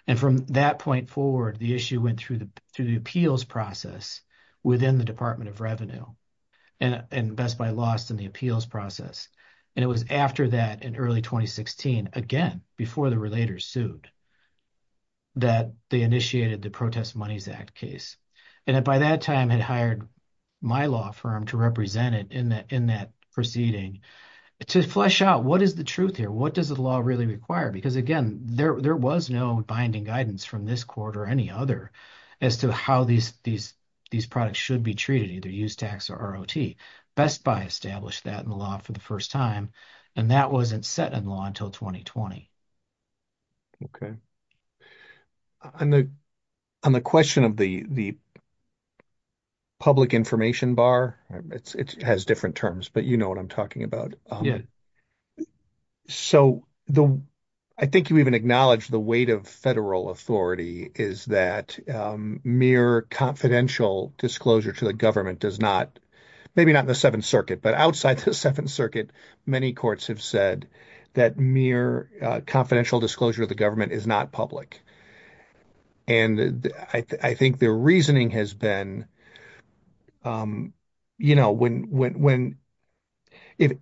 And from that point forward. The issue went through the. Through the appeals process. Within the department of revenue. And Best Buy lost. In the appeals process. And it was after that. In early 2016. Again before the relator sued. That they initiated. The protest monies act case. And by that time. Had hired my law firm. To represent it in that. In that proceeding. To flesh out what is the truth here. What does the law really require. Because again there. There was no binding guidance. From this court or any other. As to how these these. These products should be treated. Either use tax or ROT. Best Buy established that. In the law for the first time. And that wasn't set in law. Until 2020. Okay. On the question of the. Public information bar. It has different terms. But you know what I'm talking about. So the. I think you even acknowledge. The weight of federal authority. Is that. Mere confidential. Disclosure to the government. Does not. Maybe not in the 7th circuit. But outside the 7th circuit. Many courts have said. That mere confidential. Disclosure of the government. Is not public. And I think the reasoning has been. You know when when. If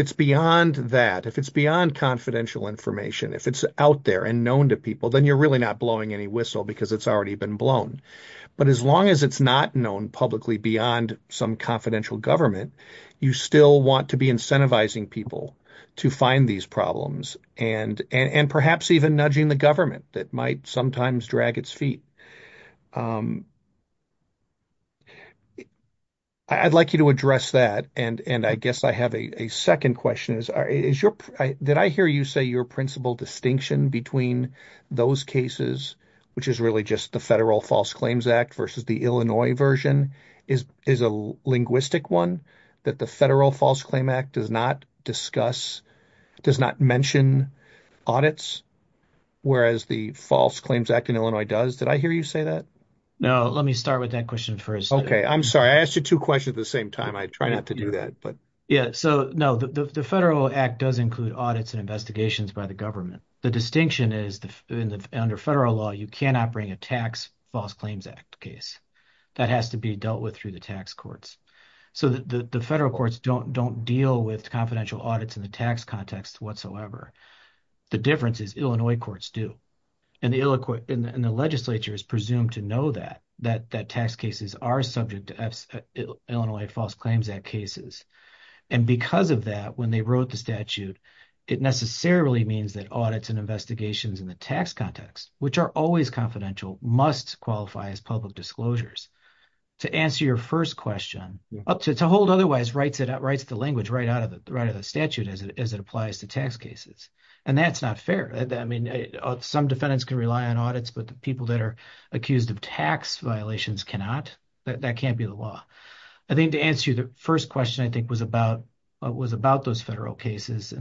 it's beyond that. If it's beyond confidential information. If it's out there. And known to people. Then you're really not blowing any whistle. Because it's already been blown. But as long as it's not known publicly. Beyond some confidential government. You still want to be incentivizing people. To find these problems. And and perhaps even nudging the government. That might sometimes drag its feet. I'd like you to address that. And and I guess I have a second question. Is is your. Did I hear you say your principal distinction. Between those cases. Which is really just. The federal false claims act. Versus the Illinois version. Is is a linguistic one. That the federal false claim act. Does not discuss. Does not mention audits. Whereas the false claims act. In Illinois does. Did I hear you say that? No let me start with that question first. Okay I'm sorry. I asked you two questions at the same time. I try not to do that but. Yeah so no the federal act. Does include audits and investigations. By the government. The distinction is. Under federal law. You cannot bring a tax. False claims act case. That has to be dealt with. Through the tax courts. So that the federal courts. Don't don't deal with confidential audits. In the tax context whatsoever. The difference is Illinois courts do. And the illiquid in the legislature. Is presumed to know that. That that tax cases are subject. To Illinois false claims act cases. And because of that. When they wrote the statute. It necessarily means. That audits and investigations. In the tax context. Which are always confidential. Must qualify as public disclosures. To answer your first question. To hold otherwise. Writes it out. Writes the language right out of it. Right of the statute. As it applies to tax cases. And that's not fair. I mean some defendants. Can rely on audits. But the people that are. Accused of tax violations cannot. That can't be the law. I think to answer you. The first question I think was about. Was about those federal cases.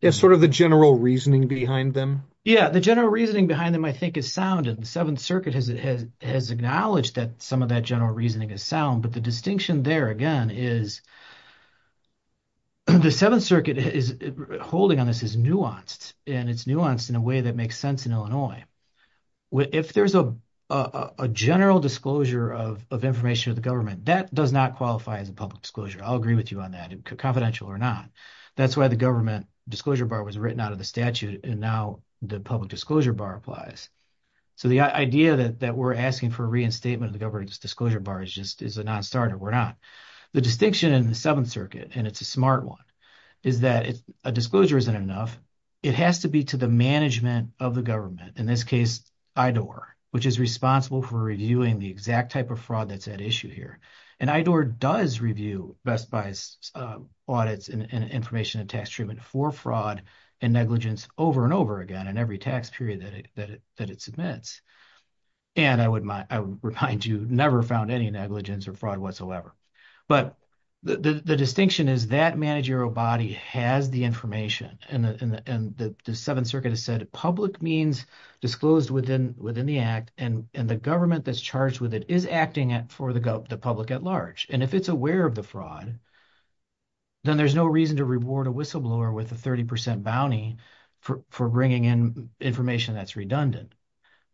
It's sort of the general reasoning behind them. Yeah the general reasoning. Behind them I think is sound. And the seventh circuit. Has it has acknowledged. That some of that general reasoning is sound. But the distinction there again is. The seventh circuit is. Holding on this is nuanced. And it's nuanced in a way. That makes sense in Illinois. If there's a general disclosure. Of information to the government. That does not qualify as a public disclosure. I'll agree with you on that. Confidential or not. That's why the government. Disclosure bar was written out of the statute. And now the public disclosure bar applies. So the idea that. We're asking for reinstatement. Of the government's disclosure bar. Is just is a non-starter we're not. The distinction in the seventh circuit. And it's a smart one. Is that a disclosure isn't enough. It has to be to the management. Of the government. In this case IDOR. Which is responsible for reviewing. The exact type of fraud. That's at issue here. And IDOR does review. Best bias audits. And information and tax treatment. For fraud and negligence. Over and over again. And every tax period. That it submits. And I would remind you. Never found any negligence. Or fraud whatsoever. But the distinction. Is that managerial body. Has the information. And the seventh circuit. Has said public means. Disclosed within the act. And the government. That's charged with it. Is acting for the public at large. And if it's aware of the fraud. Then there's no reason. To reward a whistleblower. With a 30 percent bounty. For bringing in information. That's redundant.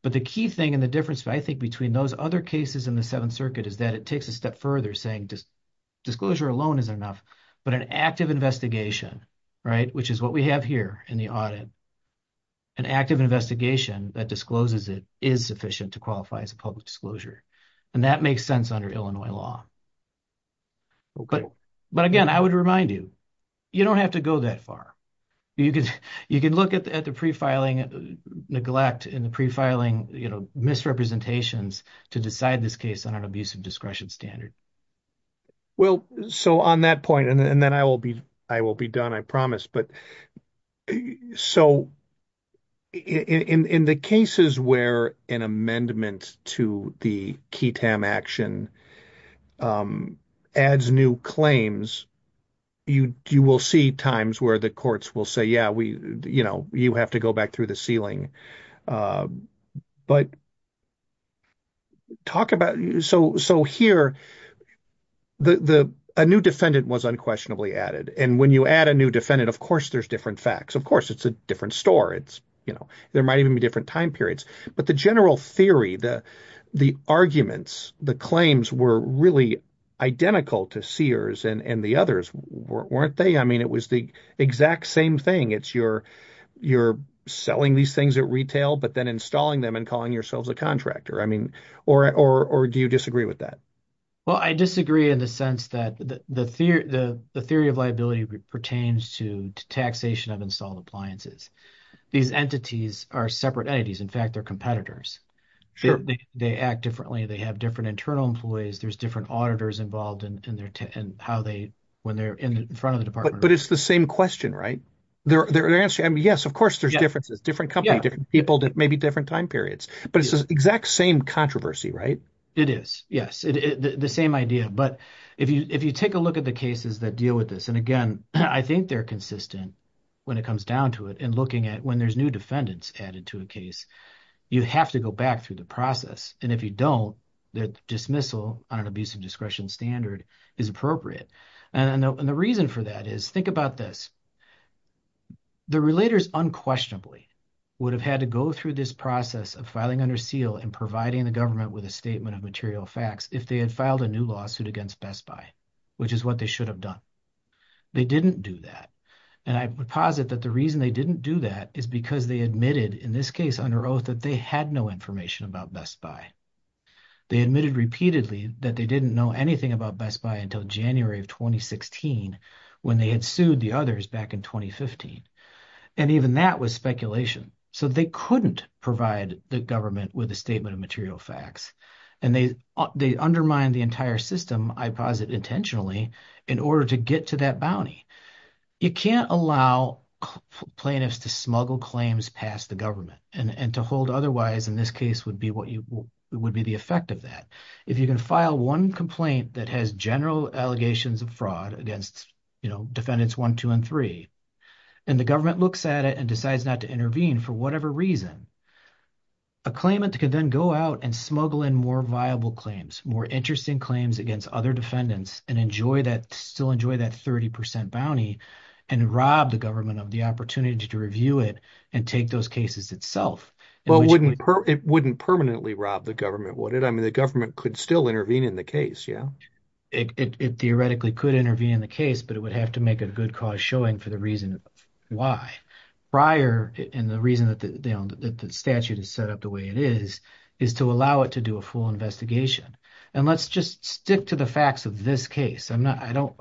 But the key thing. And the difference I think. Between those other cases. In the seventh circuit. Is that it takes a step further. Saying disclosure alone isn't enough. But an active investigation. Right which is what we have here. In the audit. An active investigation. That discloses it. Is sufficient to qualify. As a public disclosure. And that makes sense. Under Illinois law. Okay. But again. I would remind you. You don't have to go that far. You can. You can look at the pre-filing. Neglect in the pre-filing. You know misrepresentations. To decide this case. On an abusive discretion standard. Well so on that point. And then I will be. I will be done. I promise but. So in the cases. Where an amendment. To the key tam action. Adds new claims. You will see times. Where the courts will say. Yeah we you know. You have to go back through the ceiling. But talk about. So so here. The the. A new defendant was unquestionably added. And when you add a new defendant. Of course there's different facts. Of course it's a different store. It's you know. There might even be different time periods. But the general theory. The the arguments. The claims were really. Identical to Sears. And and the others. Weren't they? I mean it was the exact same thing. It's your you're. Selling these things at retail. But then installing them. And calling yourselves a contractor. I mean or or. Do you disagree with that? Well I disagree in the sense. That the theory. The theory of liability. Pertains to taxation. Of installed appliances. These entities are separate entities. In fact they're competitors. They act differently. They have different internal employees. There's different auditors. Involved in their and how they. When they're in front of the department. But it's the same question right? They're they're answering. Yes of course there's differences. Different companies. Different people. Maybe different time periods. But it's the exact same controversy right? It is yes. The same idea. But if you if you take a look at. The cases that deal with this. And again I think they're consistent. When it comes down to it. And looking at when there's new. Defendants added to a case. You have to go back through the process. And if you don't. Dismissal on an abusive. Discretion standard is appropriate. And the reason for that is. Think about this. The relators unquestionably. Would have had to go through. This process of filing under seal. And providing the government. With a statement of material facts. If they had filed a new lawsuit. Against Best Buy. Which is what they should have done. They didn't do that. And I would posit. That the reason they didn't do that. Is because they admitted. In this case under oath. That they had no information. About Best Buy. They admitted repeatedly. That they didn't know. Anything about Best Buy. Until January of 2016. When they had sued the others. Back in 2015. And even that was speculation. So they couldn't provide. The government with a statement. Of material facts. And they undermined. The entire system. I posit intentionally. In order to get to that bounty. You can't allow. Plaintiffs to smuggle claims. Past the government. And to hold otherwise. In this case would be. Would be the effect of that. If you can file one complaint. That has general allegations of fraud. Against you know. Defendants 1, 2 and 3. And the government looks at it. And decides not to intervene. For whatever reason. A claimant can then go out. And smuggle in more viable claims. More interesting claims. Against other defendants. And enjoy that. Still enjoy that 30% bounty. And rob the government. Of the opportunity to review it. And take those cases itself. But it wouldn't. Permanently rob the government. Would it? I mean the government. Could still intervene in the case. Yeah it theoretically. Could intervene in the case. But it would have to make. A good cause showing. For the reason why. Prior and the reason. That the statute. Is set up the way it is. Is to allow it to do. A full investigation. And let's just stick. To the facts of this case. I'm not. I don't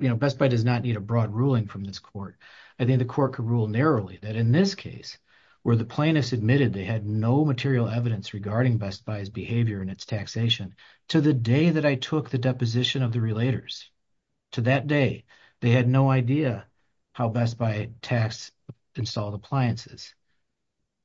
you know. Best Buy does not need. A broad ruling from this court. I think the court. Could rule narrowly. That in this case. Where the plaintiffs admitted. They had no material evidence. Regarding Best Buy's behavior. And its taxation. To the day that I took. The deposition of the relators. To that day. They had no idea. How Best Buy tax. Installed appliances.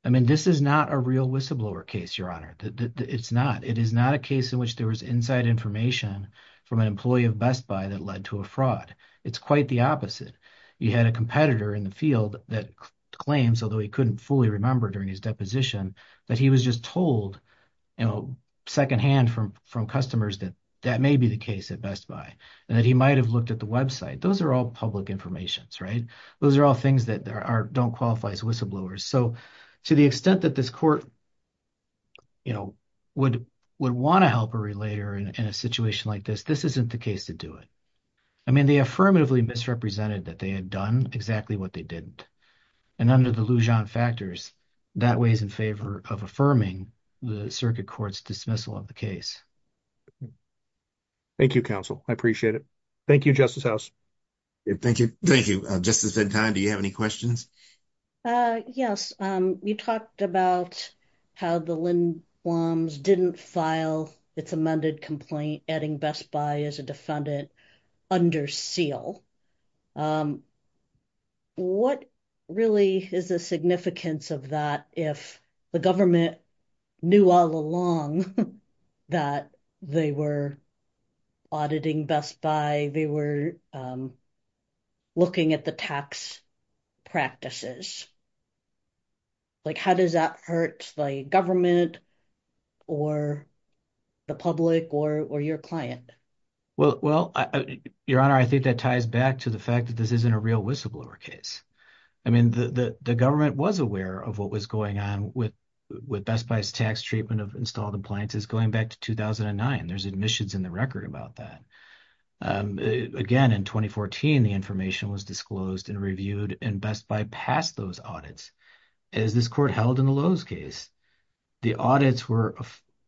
I mean this is not. A real whistleblower case. Your honor. It's not. It is not a case. In which there was inside information. From an employee of Best Buy. That led to a fraud. It's quite the opposite. You had a competitor. In the field. That claims. Although he couldn't. Fully remember. During his deposition. That he was just told. You know. Secondhand from. From customers. That that may be the case. At Best Buy. And that he might have. Looked at the website. Those are all public. Informations right. Those are all things. That are don't qualify. As whistleblowers. So to the extent. That this court. You know would. Would want to help a. Relator in a situation like this. This isn't the case to do it. I mean they affirmatively. Misrepresented. That they had done. Exactly what they didn't. And under the Lujan factors. That way is in favor. Of affirming. The circuit court's dismissal. Of the case. Thank you counsel. I appreciate it. Thank you Justice House. Thank you. Thank you. Justice Ventana. Do you have any questions? Yes. You talked about. How the Lindblom's. Didn't file. It's amended complaint. Adding Best Buy. As a defendant. Under seal. What really is the significance. Of that if the government. Knew all along. That they were. Auditing Best Buy. They were. Looking at the tax. Practices. Like how does that hurt. The government. Or the public. Or or your client. Well, well, your honor. I think that ties back to the fact. That this isn't a real whistleblower case. I mean the government was aware. Of what was going on with. With Best Buy's tax treatment. Of installed appliances. Going back to 2009. There's admissions in the record. About that. Again in 2014. The information was disclosed. And reviewed and Best Buy. Passed those audits. As this court held in the Lowe's case. The audits were.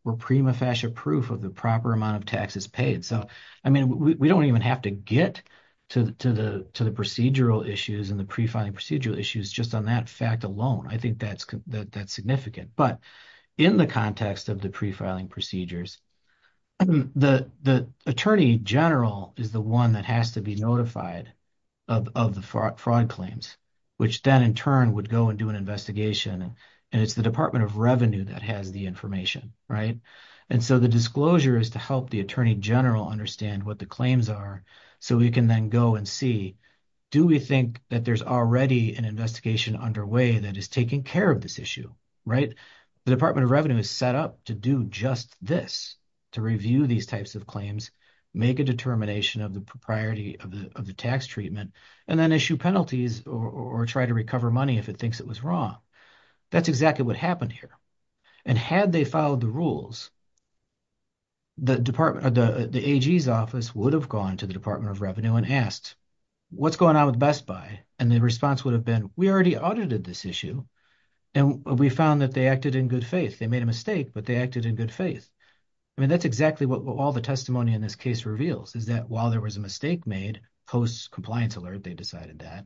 Were prima facie proof. Of the proper amount of taxes paid. So I mean. We don't even have to get. To the to the procedural issues. And the pre filing procedural issues. Just on that fact alone. I think that's that's significant. But in the context. Of the pre filing procedures. The the attorney general. Is the one that has to be notified. Of the fraud claims. Which then in turn would go. And do an investigation. And it's the Department of Revenue. That has the information right. And so the disclosure. Is to help the attorney general. Understand what the claims are. So we can then go and see. Do we think that there's already. An investigation underway. That is taking care of this issue. Right the Department of Revenue. Is set up to do just this. To review these types of claims. Make a determination of the. Propriety of the of the tax treatment. And then issue penalties. Or try to recover money. If it thinks it was wrong. That's exactly what happened here. And had they followed the rules. The Department of the AG's office. Would have gone to the Department of Revenue. And asked what's going on with Best Buy. And the response would have been. We already audited this issue. And we found that they acted in good faith. They made a mistake. But they acted in good faith. I mean that's exactly what all the. Testimony in this case reveals. Is that while there was a mistake made. Post compliance alert. They decided that.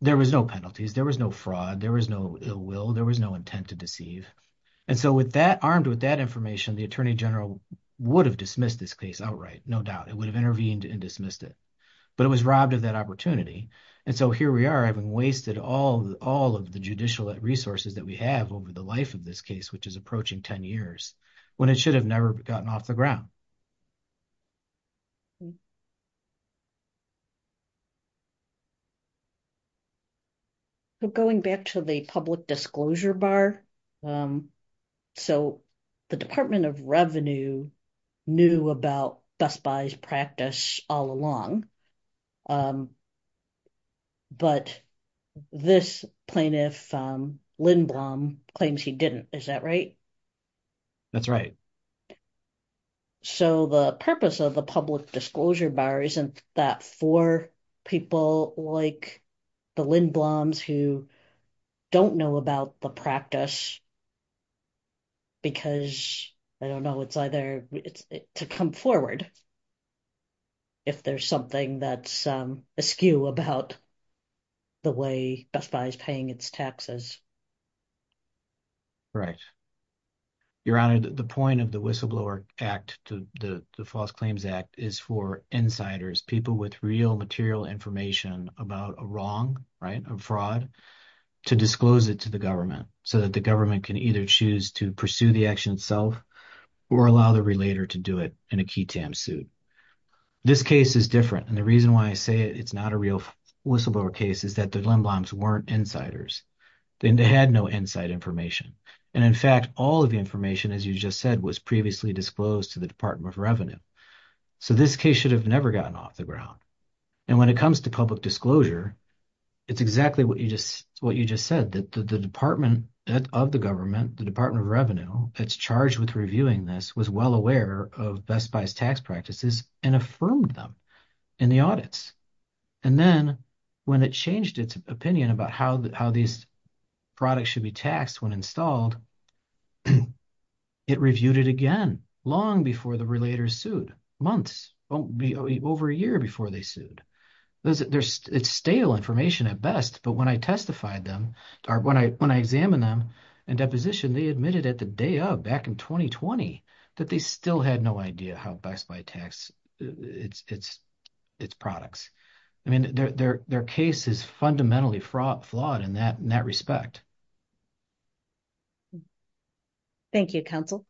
There was no penalties. There was no fraud. There was no ill will. There was no intent to deceive. And so with that armed with that. Information the Attorney General. Would have dismissed this case outright. No doubt it would have intervened. And dismissed it. But it was robbed of that opportunity. And so here we are having wasted. All all of the judicial resources. That we have over the life of this case. Which is approaching 10 years. When it should have never. Gotten off the ground. Going back to the public disclosure bar. So the Department of Revenue. Knew about Best Buy's practice all along. But this plaintiff. Lindblom claims he didn't. Is that right? That's right. So the purpose of the public disclosure bar. Isn't that for people like. The Lindblom's who. Don't know about the practice. Because I don't know. It's either it's to come forward. If there's something that's askew about. The way Best Buy is paying its taxes. Right. Your Honor. The point of the whistleblower act. To the false claims act. Is for insiders people. With real material information. About a wrong right of fraud. To disclose it to the government. So that the government can either. Choose to pursue the action itself. Or allow the relator to do it. In a key tam suit. This case is different. And the reason why I say. It's not a real whistleblower case. Is that the Lindblom's weren't insiders. Then they had no inside information. And in fact all of the information. As you just said was previously. Disclosed to the Department of Revenue. So this case should have never. Gotten off the ground. And when it comes to public disclosure. It's exactly what you just. You just said that the Department. Of the government. The Department of Revenue. It's charged with reviewing this. Was well aware of Best Buy's tax practices. And affirmed them in the audits. And then when it changed its opinion. About how these products. Should be taxed when installed. It reviewed it again. Long before the relator sued. Months. Won't be over a year before they sued. It's stale information at best. But when I testified them. Or when I when I examine them. And deposition they admitted. At the day of back in 2020. That they still had no idea. How Best Buy tax. It's it's it's products. I mean their their their case. Is fundamentally fraught. Flawed in that in that respect. Thank you counsel.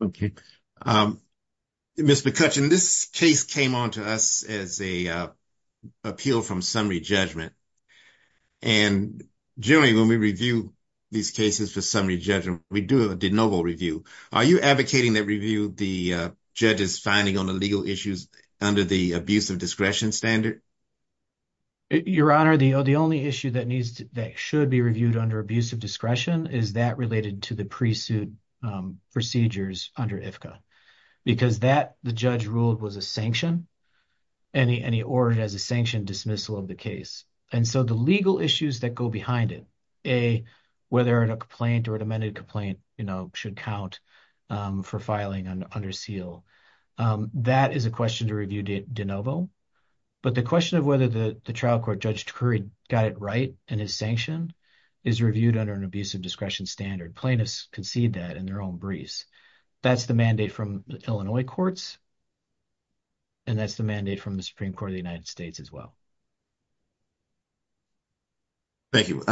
Thank you. Miss McCutcheon. This case came on to us. As a appeal from summary judgment. And during when we review. These cases for summary judgment. We do a de novo review. Are you advocating that review? The judge is finding on the legal issues. Under the abuse of discretion standard. Your Honor, the only issue that needs. That should be reviewed. Under abuse of discretion. Is that related to the pre-suit? Procedures under IFCA. Because that the judge ruled. Was a sanction. Any any order as a. Sanction dismissal of the case. And so the legal issues. That go behind it. A whether it a complaint. Or an amended complaint. You know should count. For filing under seal. That is a question to review de novo. But the question of whether. The trial court judge. Curry got it right. And his sanction is reviewed. Under an abuse of discretion standard. Plaintiffs concede that. In their own breeze. That's the mandate from Illinois courts. And that's the mandate from the. Supreme Court of the United States as well. Thank you.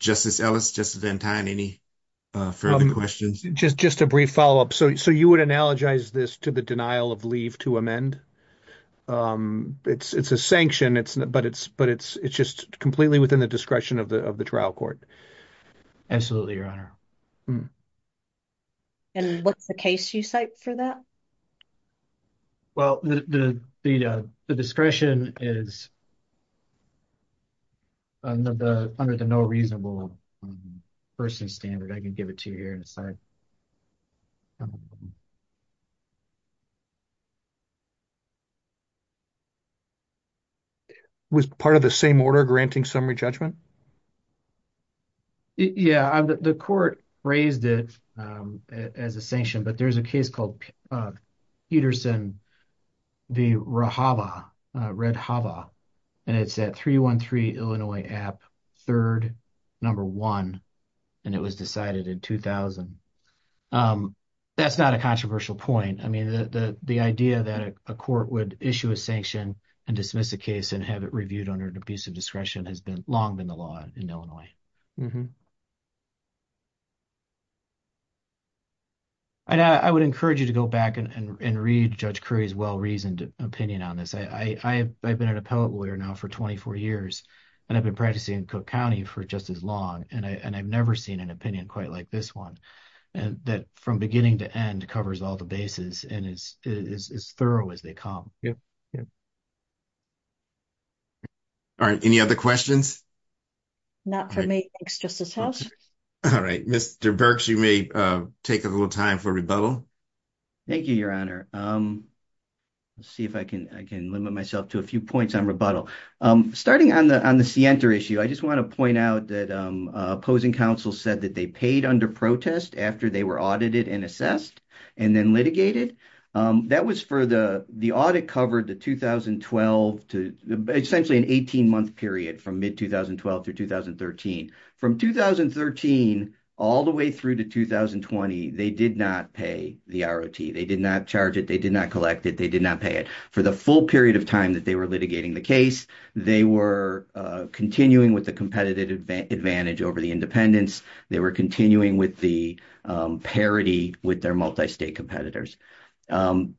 Justice Ellis just then time. Any further questions. Just just a brief follow up. So so you would analogize this. To the denial of leave to amend. It's it's a sanction. It's not, but it's, but it's. It's just completely within the. Discretion of the of the trial court. Absolutely, Your Honor. And what's the case you cite for that? Well, the the the discretion is. Under the under the no reasonable. Person standard, I can give it to you here inside. Was part of the same order. Granting summary judgment. Yeah, the court raised it. As a sanction, but there's a case called. Peterson. The Rahava Red Hava. And it's at 313 Illinois app. 3rd number one. And it was decided in 2000. That's not a controversial point. I mean, the idea that a court would. Issue a sanction and dismiss the case. And have it reviewed under an abusive. Discretion has been long. Been the law in Illinois. And I would encourage you to go back and read. Judge Curry's well, reasoned opinion on this. I, I, I've been an appellate lawyer now for 24 years. And I've been practicing in Cook County for just as long. And I, and I've never seen an opinion quite like this 1 and that from beginning to end. Covers all the bases and is as thorough as they come. Yeah, yeah. All right, any other questions? Not for the time being, but I do have a question for you. Justice house. All right. Mr. Berks, you may take a little time for rebuttal. Thank you. Your honor. Let's see if I can, I can limit myself to a few points on rebuttal. Starting on the, on the center issue. I just want to point out that opposing council said that they paid under protest after they were audited and assessed and then litigated. That was for the, the audit covered the 2012 to essentially an 18 month period from mid 2012 to 2013 from 2013, all the way through to 2020. They did not pay the ROT. They did not charge it. They did not collect it. They did not pay it for the full period of time that they were litigating the case. They were continuing with the competitive advantage over the independence. They were continuing with the parity with their multi-state competitors. Mr.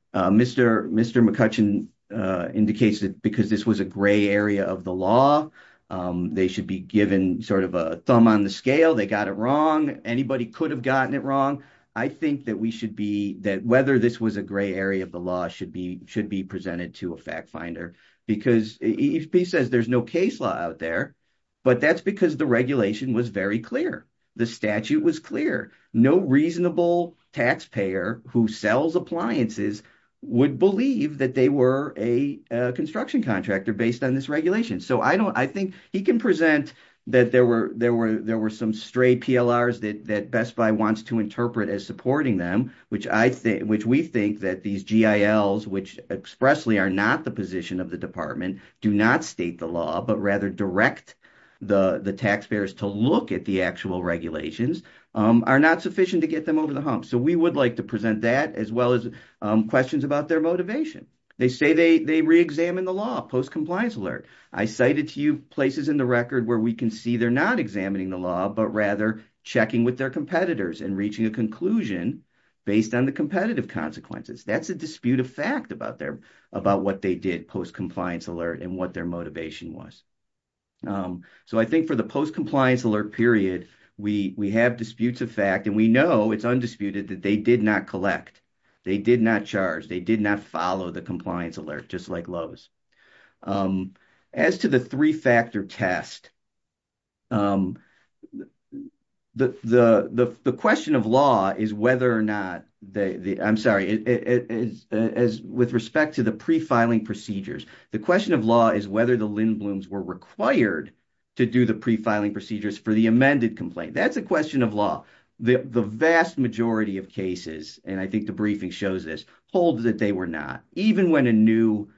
Mr. McCutcheon indicates that because this was a gray area of the law. They should be given sort of a thumb on the scale. They got it wrong. Anybody could have gotten it wrong. I think that we should be that whether this was a gray area of the law should be, should be presented to a fact finder because he says there's no case law out there, but that's because the regulation was very clear. The statute was clear. No reasonable taxpayer who sells appliances would believe that they were a construction contractor based on this regulation. So I think he can present that there were some stray PLRs that Best Buy wants to interpret as supporting them, which we think that these GILs, which expressly are not the position of the department, do not state the law, but rather direct the taxpayers to look at the actual regulations, are not sufficient to get them over the hump. So we would like to present that as well as questions about their motivation. They say they re-examine the law post-compliance alert. I cited to you places in the record where we can see they're not examining the law, but rather checking with their competitors and reaching a conclusion based on the competitive consequences. That's a dispute of fact about their, about what they did post-compliance alert and what their motivation was. So I think for the post-compliance alert period, we have disputes of fact, and we know it's undisputed that they did not collect. They did not charge. They did not follow the compliance alert, just like Lowe's. As to the three-factor test, the question of law is whether or not, I'm sorry, with respect to the pre-filing procedures, the question of law is whether the Lindbloms were required to do the pre-filing procedures for the amended complaint. That's a question of law. The vast majority of cases, and I think the briefing shows this, hold that they were not, even when a new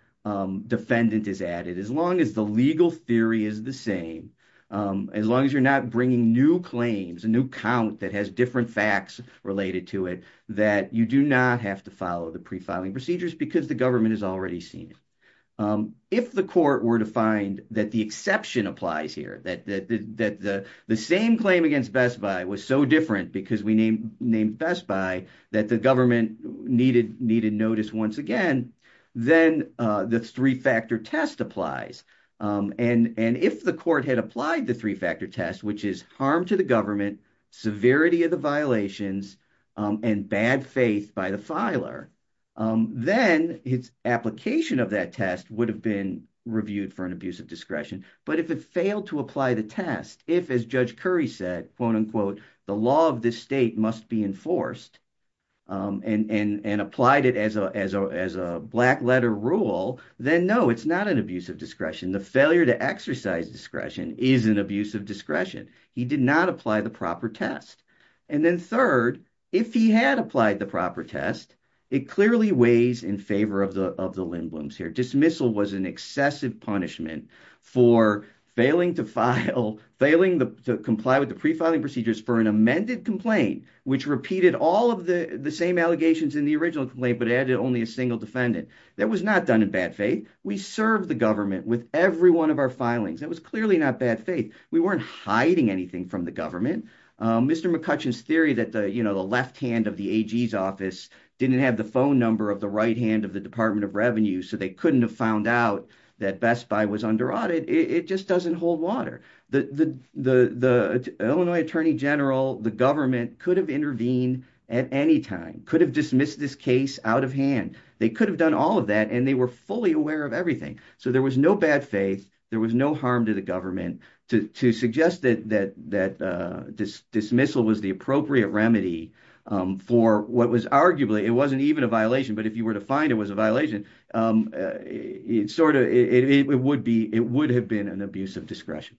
defendant is added. As long as the legal theory is the same, as long as you're not bringing new claims, a new count that has different facts related to it, that you do not have to follow the pre-filing procedures because the government has already seen it. If the court were to find that the exception applies here, that the same claim against was so different because we named Best Buy, that the government needed notice once again, then the three-factor test applies. If the court had applied the three-factor test, which is harm to the government, severity of the violations, and bad faith by the filer, then its application of that test would have been reviewed for an abuse of discretion. But if it failed to apply the test, if, as Judge Curry said, the law of this state must be enforced and applied it as a black letter rule, then no, it's not an abuse of discretion. The failure to exercise discretion is an abuse of discretion. He did not apply the proper test. And then third, if he had applied the proper test, it clearly weighs in favor of the Lindbloms here. Dismissal was an excessive punishment for failing to comply with the pre-filing procedures for an amended complaint, which repeated all of the same allegations in the original complaint, but added only a single defendant. That was not done in bad faith. We served the government with every one of our filings. That was clearly not bad faith. We weren't hiding anything from the government. Mr. McCutcheon's theory that the left hand of the AG's office didn't have the phone number of the right hand of the Department of Revenue, so they couldn't have found out that Best Buy was under audit, it just doesn't hold water. The Illinois Attorney General, the government could have intervened at any time, could have dismissed this case out of hand. They could have done all of that, and they were fully aware of everything. So there was no bad faith. There was no harm to the government to suggest that dismissal was the appropriate remedy for what was arguably, it wasn't even a violation, but if you were to find it was a violation, it would have been an abuse of discretion.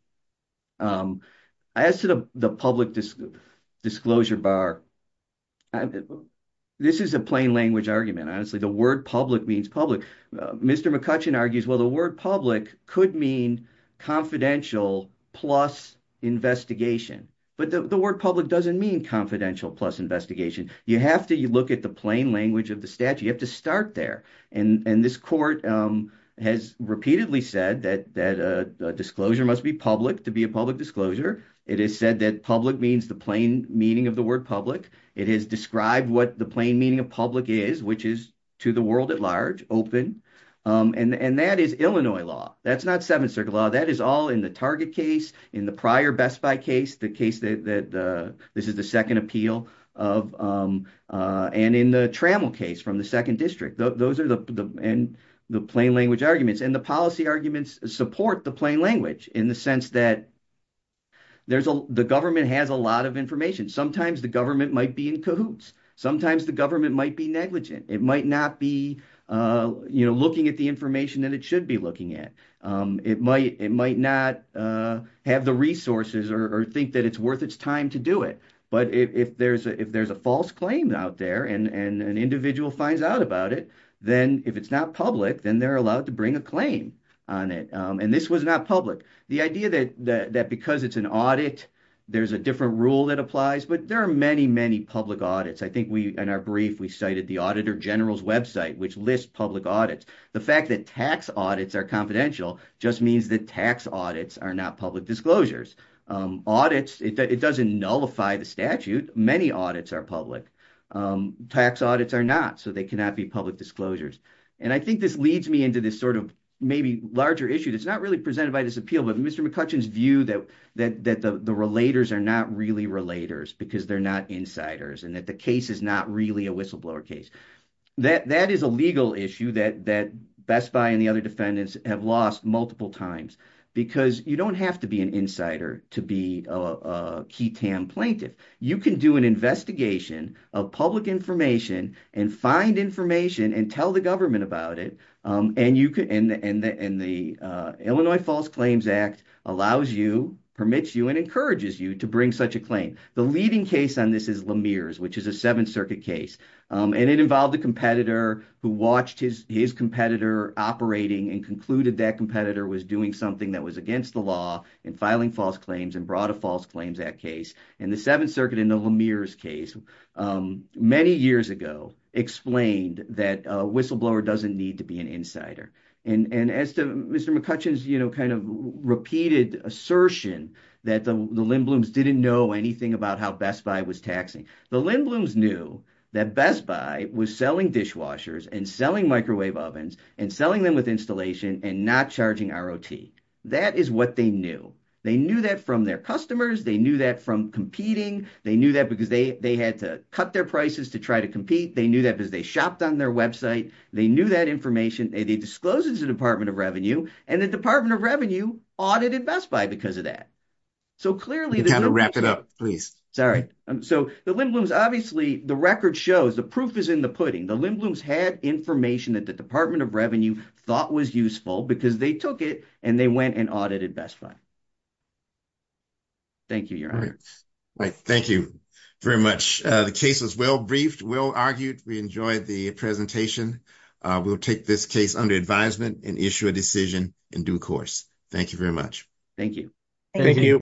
As to the public disclosure bar, this is a plain language argument. Honestly, the word public means public. Mr. McCutcheon argues, well, the word public could mean confidential plus investigation, but the word public doesn't mean confidential plus investigation. You have to look at the plain language of the statute. You have to start there, and this court has repeatedly said that a disclosure must be public to be a public disclosure. It has said that public means the plain meaning of the word public. It has described what the plain meaning of public is, which is to the world at large, open, and that is Illinois law. That's not Seventh Circuit law. That is all in the Target case, in the prior Best Buy case, the case that this is the second appeal, and in the Trammell case from the second district. Those are the plain language arguments, and the policy arguments support the plain language in the sense that the government has a lot of information. Sometimes the government might be in cahoots. Sometimes the government might be negligent. It might not be looking at the information that it should be looking at. It might not have the resources or think that it's worth its time to do it, but if there's a false claim out there and an individual finds out about it, then if it's not public, then they're allowed to bring a claim on it, and this was not public. The idea that because it's an audit, there's a different rule that applies, but there are many, many public audits. I think in our brief, we cited the Auditor General's website, which lists public audits. The fact that tax audits are confidential just means that tax audits are not public disclosures. It doesn't nullify the statute. Many audits are public. Tax audits are not, so they cannot be public disclosures, and I think this leads me into this sort of maybe larger issue that's not really presented by this appeal, but Mr. McCutcheon's view that the relators are not really relators because they're not insiders and that the case is not really a whistleblower case. That is a legal issue that Best Buy and the other defendants have lost multiple times because you don't have to be an insider to be a key TAM plaintiff. You can do an investigation of public information and find information and tell the government about it, and the Illinois False Claims Act allows you, permits you, and encourages you to bring such a claim. The leading case on this is Lemire's, which is a Seventh Circuit case, and it involved a competitor who watched his competitor operating and concluded that competitor was doing something that was against the law and filing false claims and brought a false claims act case, and the Seventh Circuit in the Lemire's case many years ago explained that a whistleblower doesn't need to be an insider, and as to Mr. McCutcheon's repeated assertion that the Lindblums didn't know anything about how Best Buy was taxing, the Lindblums knew that Best Buy was selling dishwashers and selling microwave ovens and selling them with installation and not charging ROT. That is what they knew. They knew that from their customers. They knew that from competing. They knew that because they had to cut their prices to try to compete. They knew that because they shopped on their website. They knew that information. They disclosed it to the Department of Revenue, and the Department of Revenue audited Best Buy because of that. So, clearly... Can you kind of wrap it up, please? Sorry. So, the Lindblums, obviously, the record shows the proof is in the pudding. The Lindblums had information that the Department of Revenue thought was useful because they took it and they went and audited Best Buy. Thank you, Your Honor. All right. Thank you very much. The case was well briefed, well argued. We enjoyed the presentation. We'll take this case under advisement and issue a decision in due course. Thank you very much. Thank you. Thank you.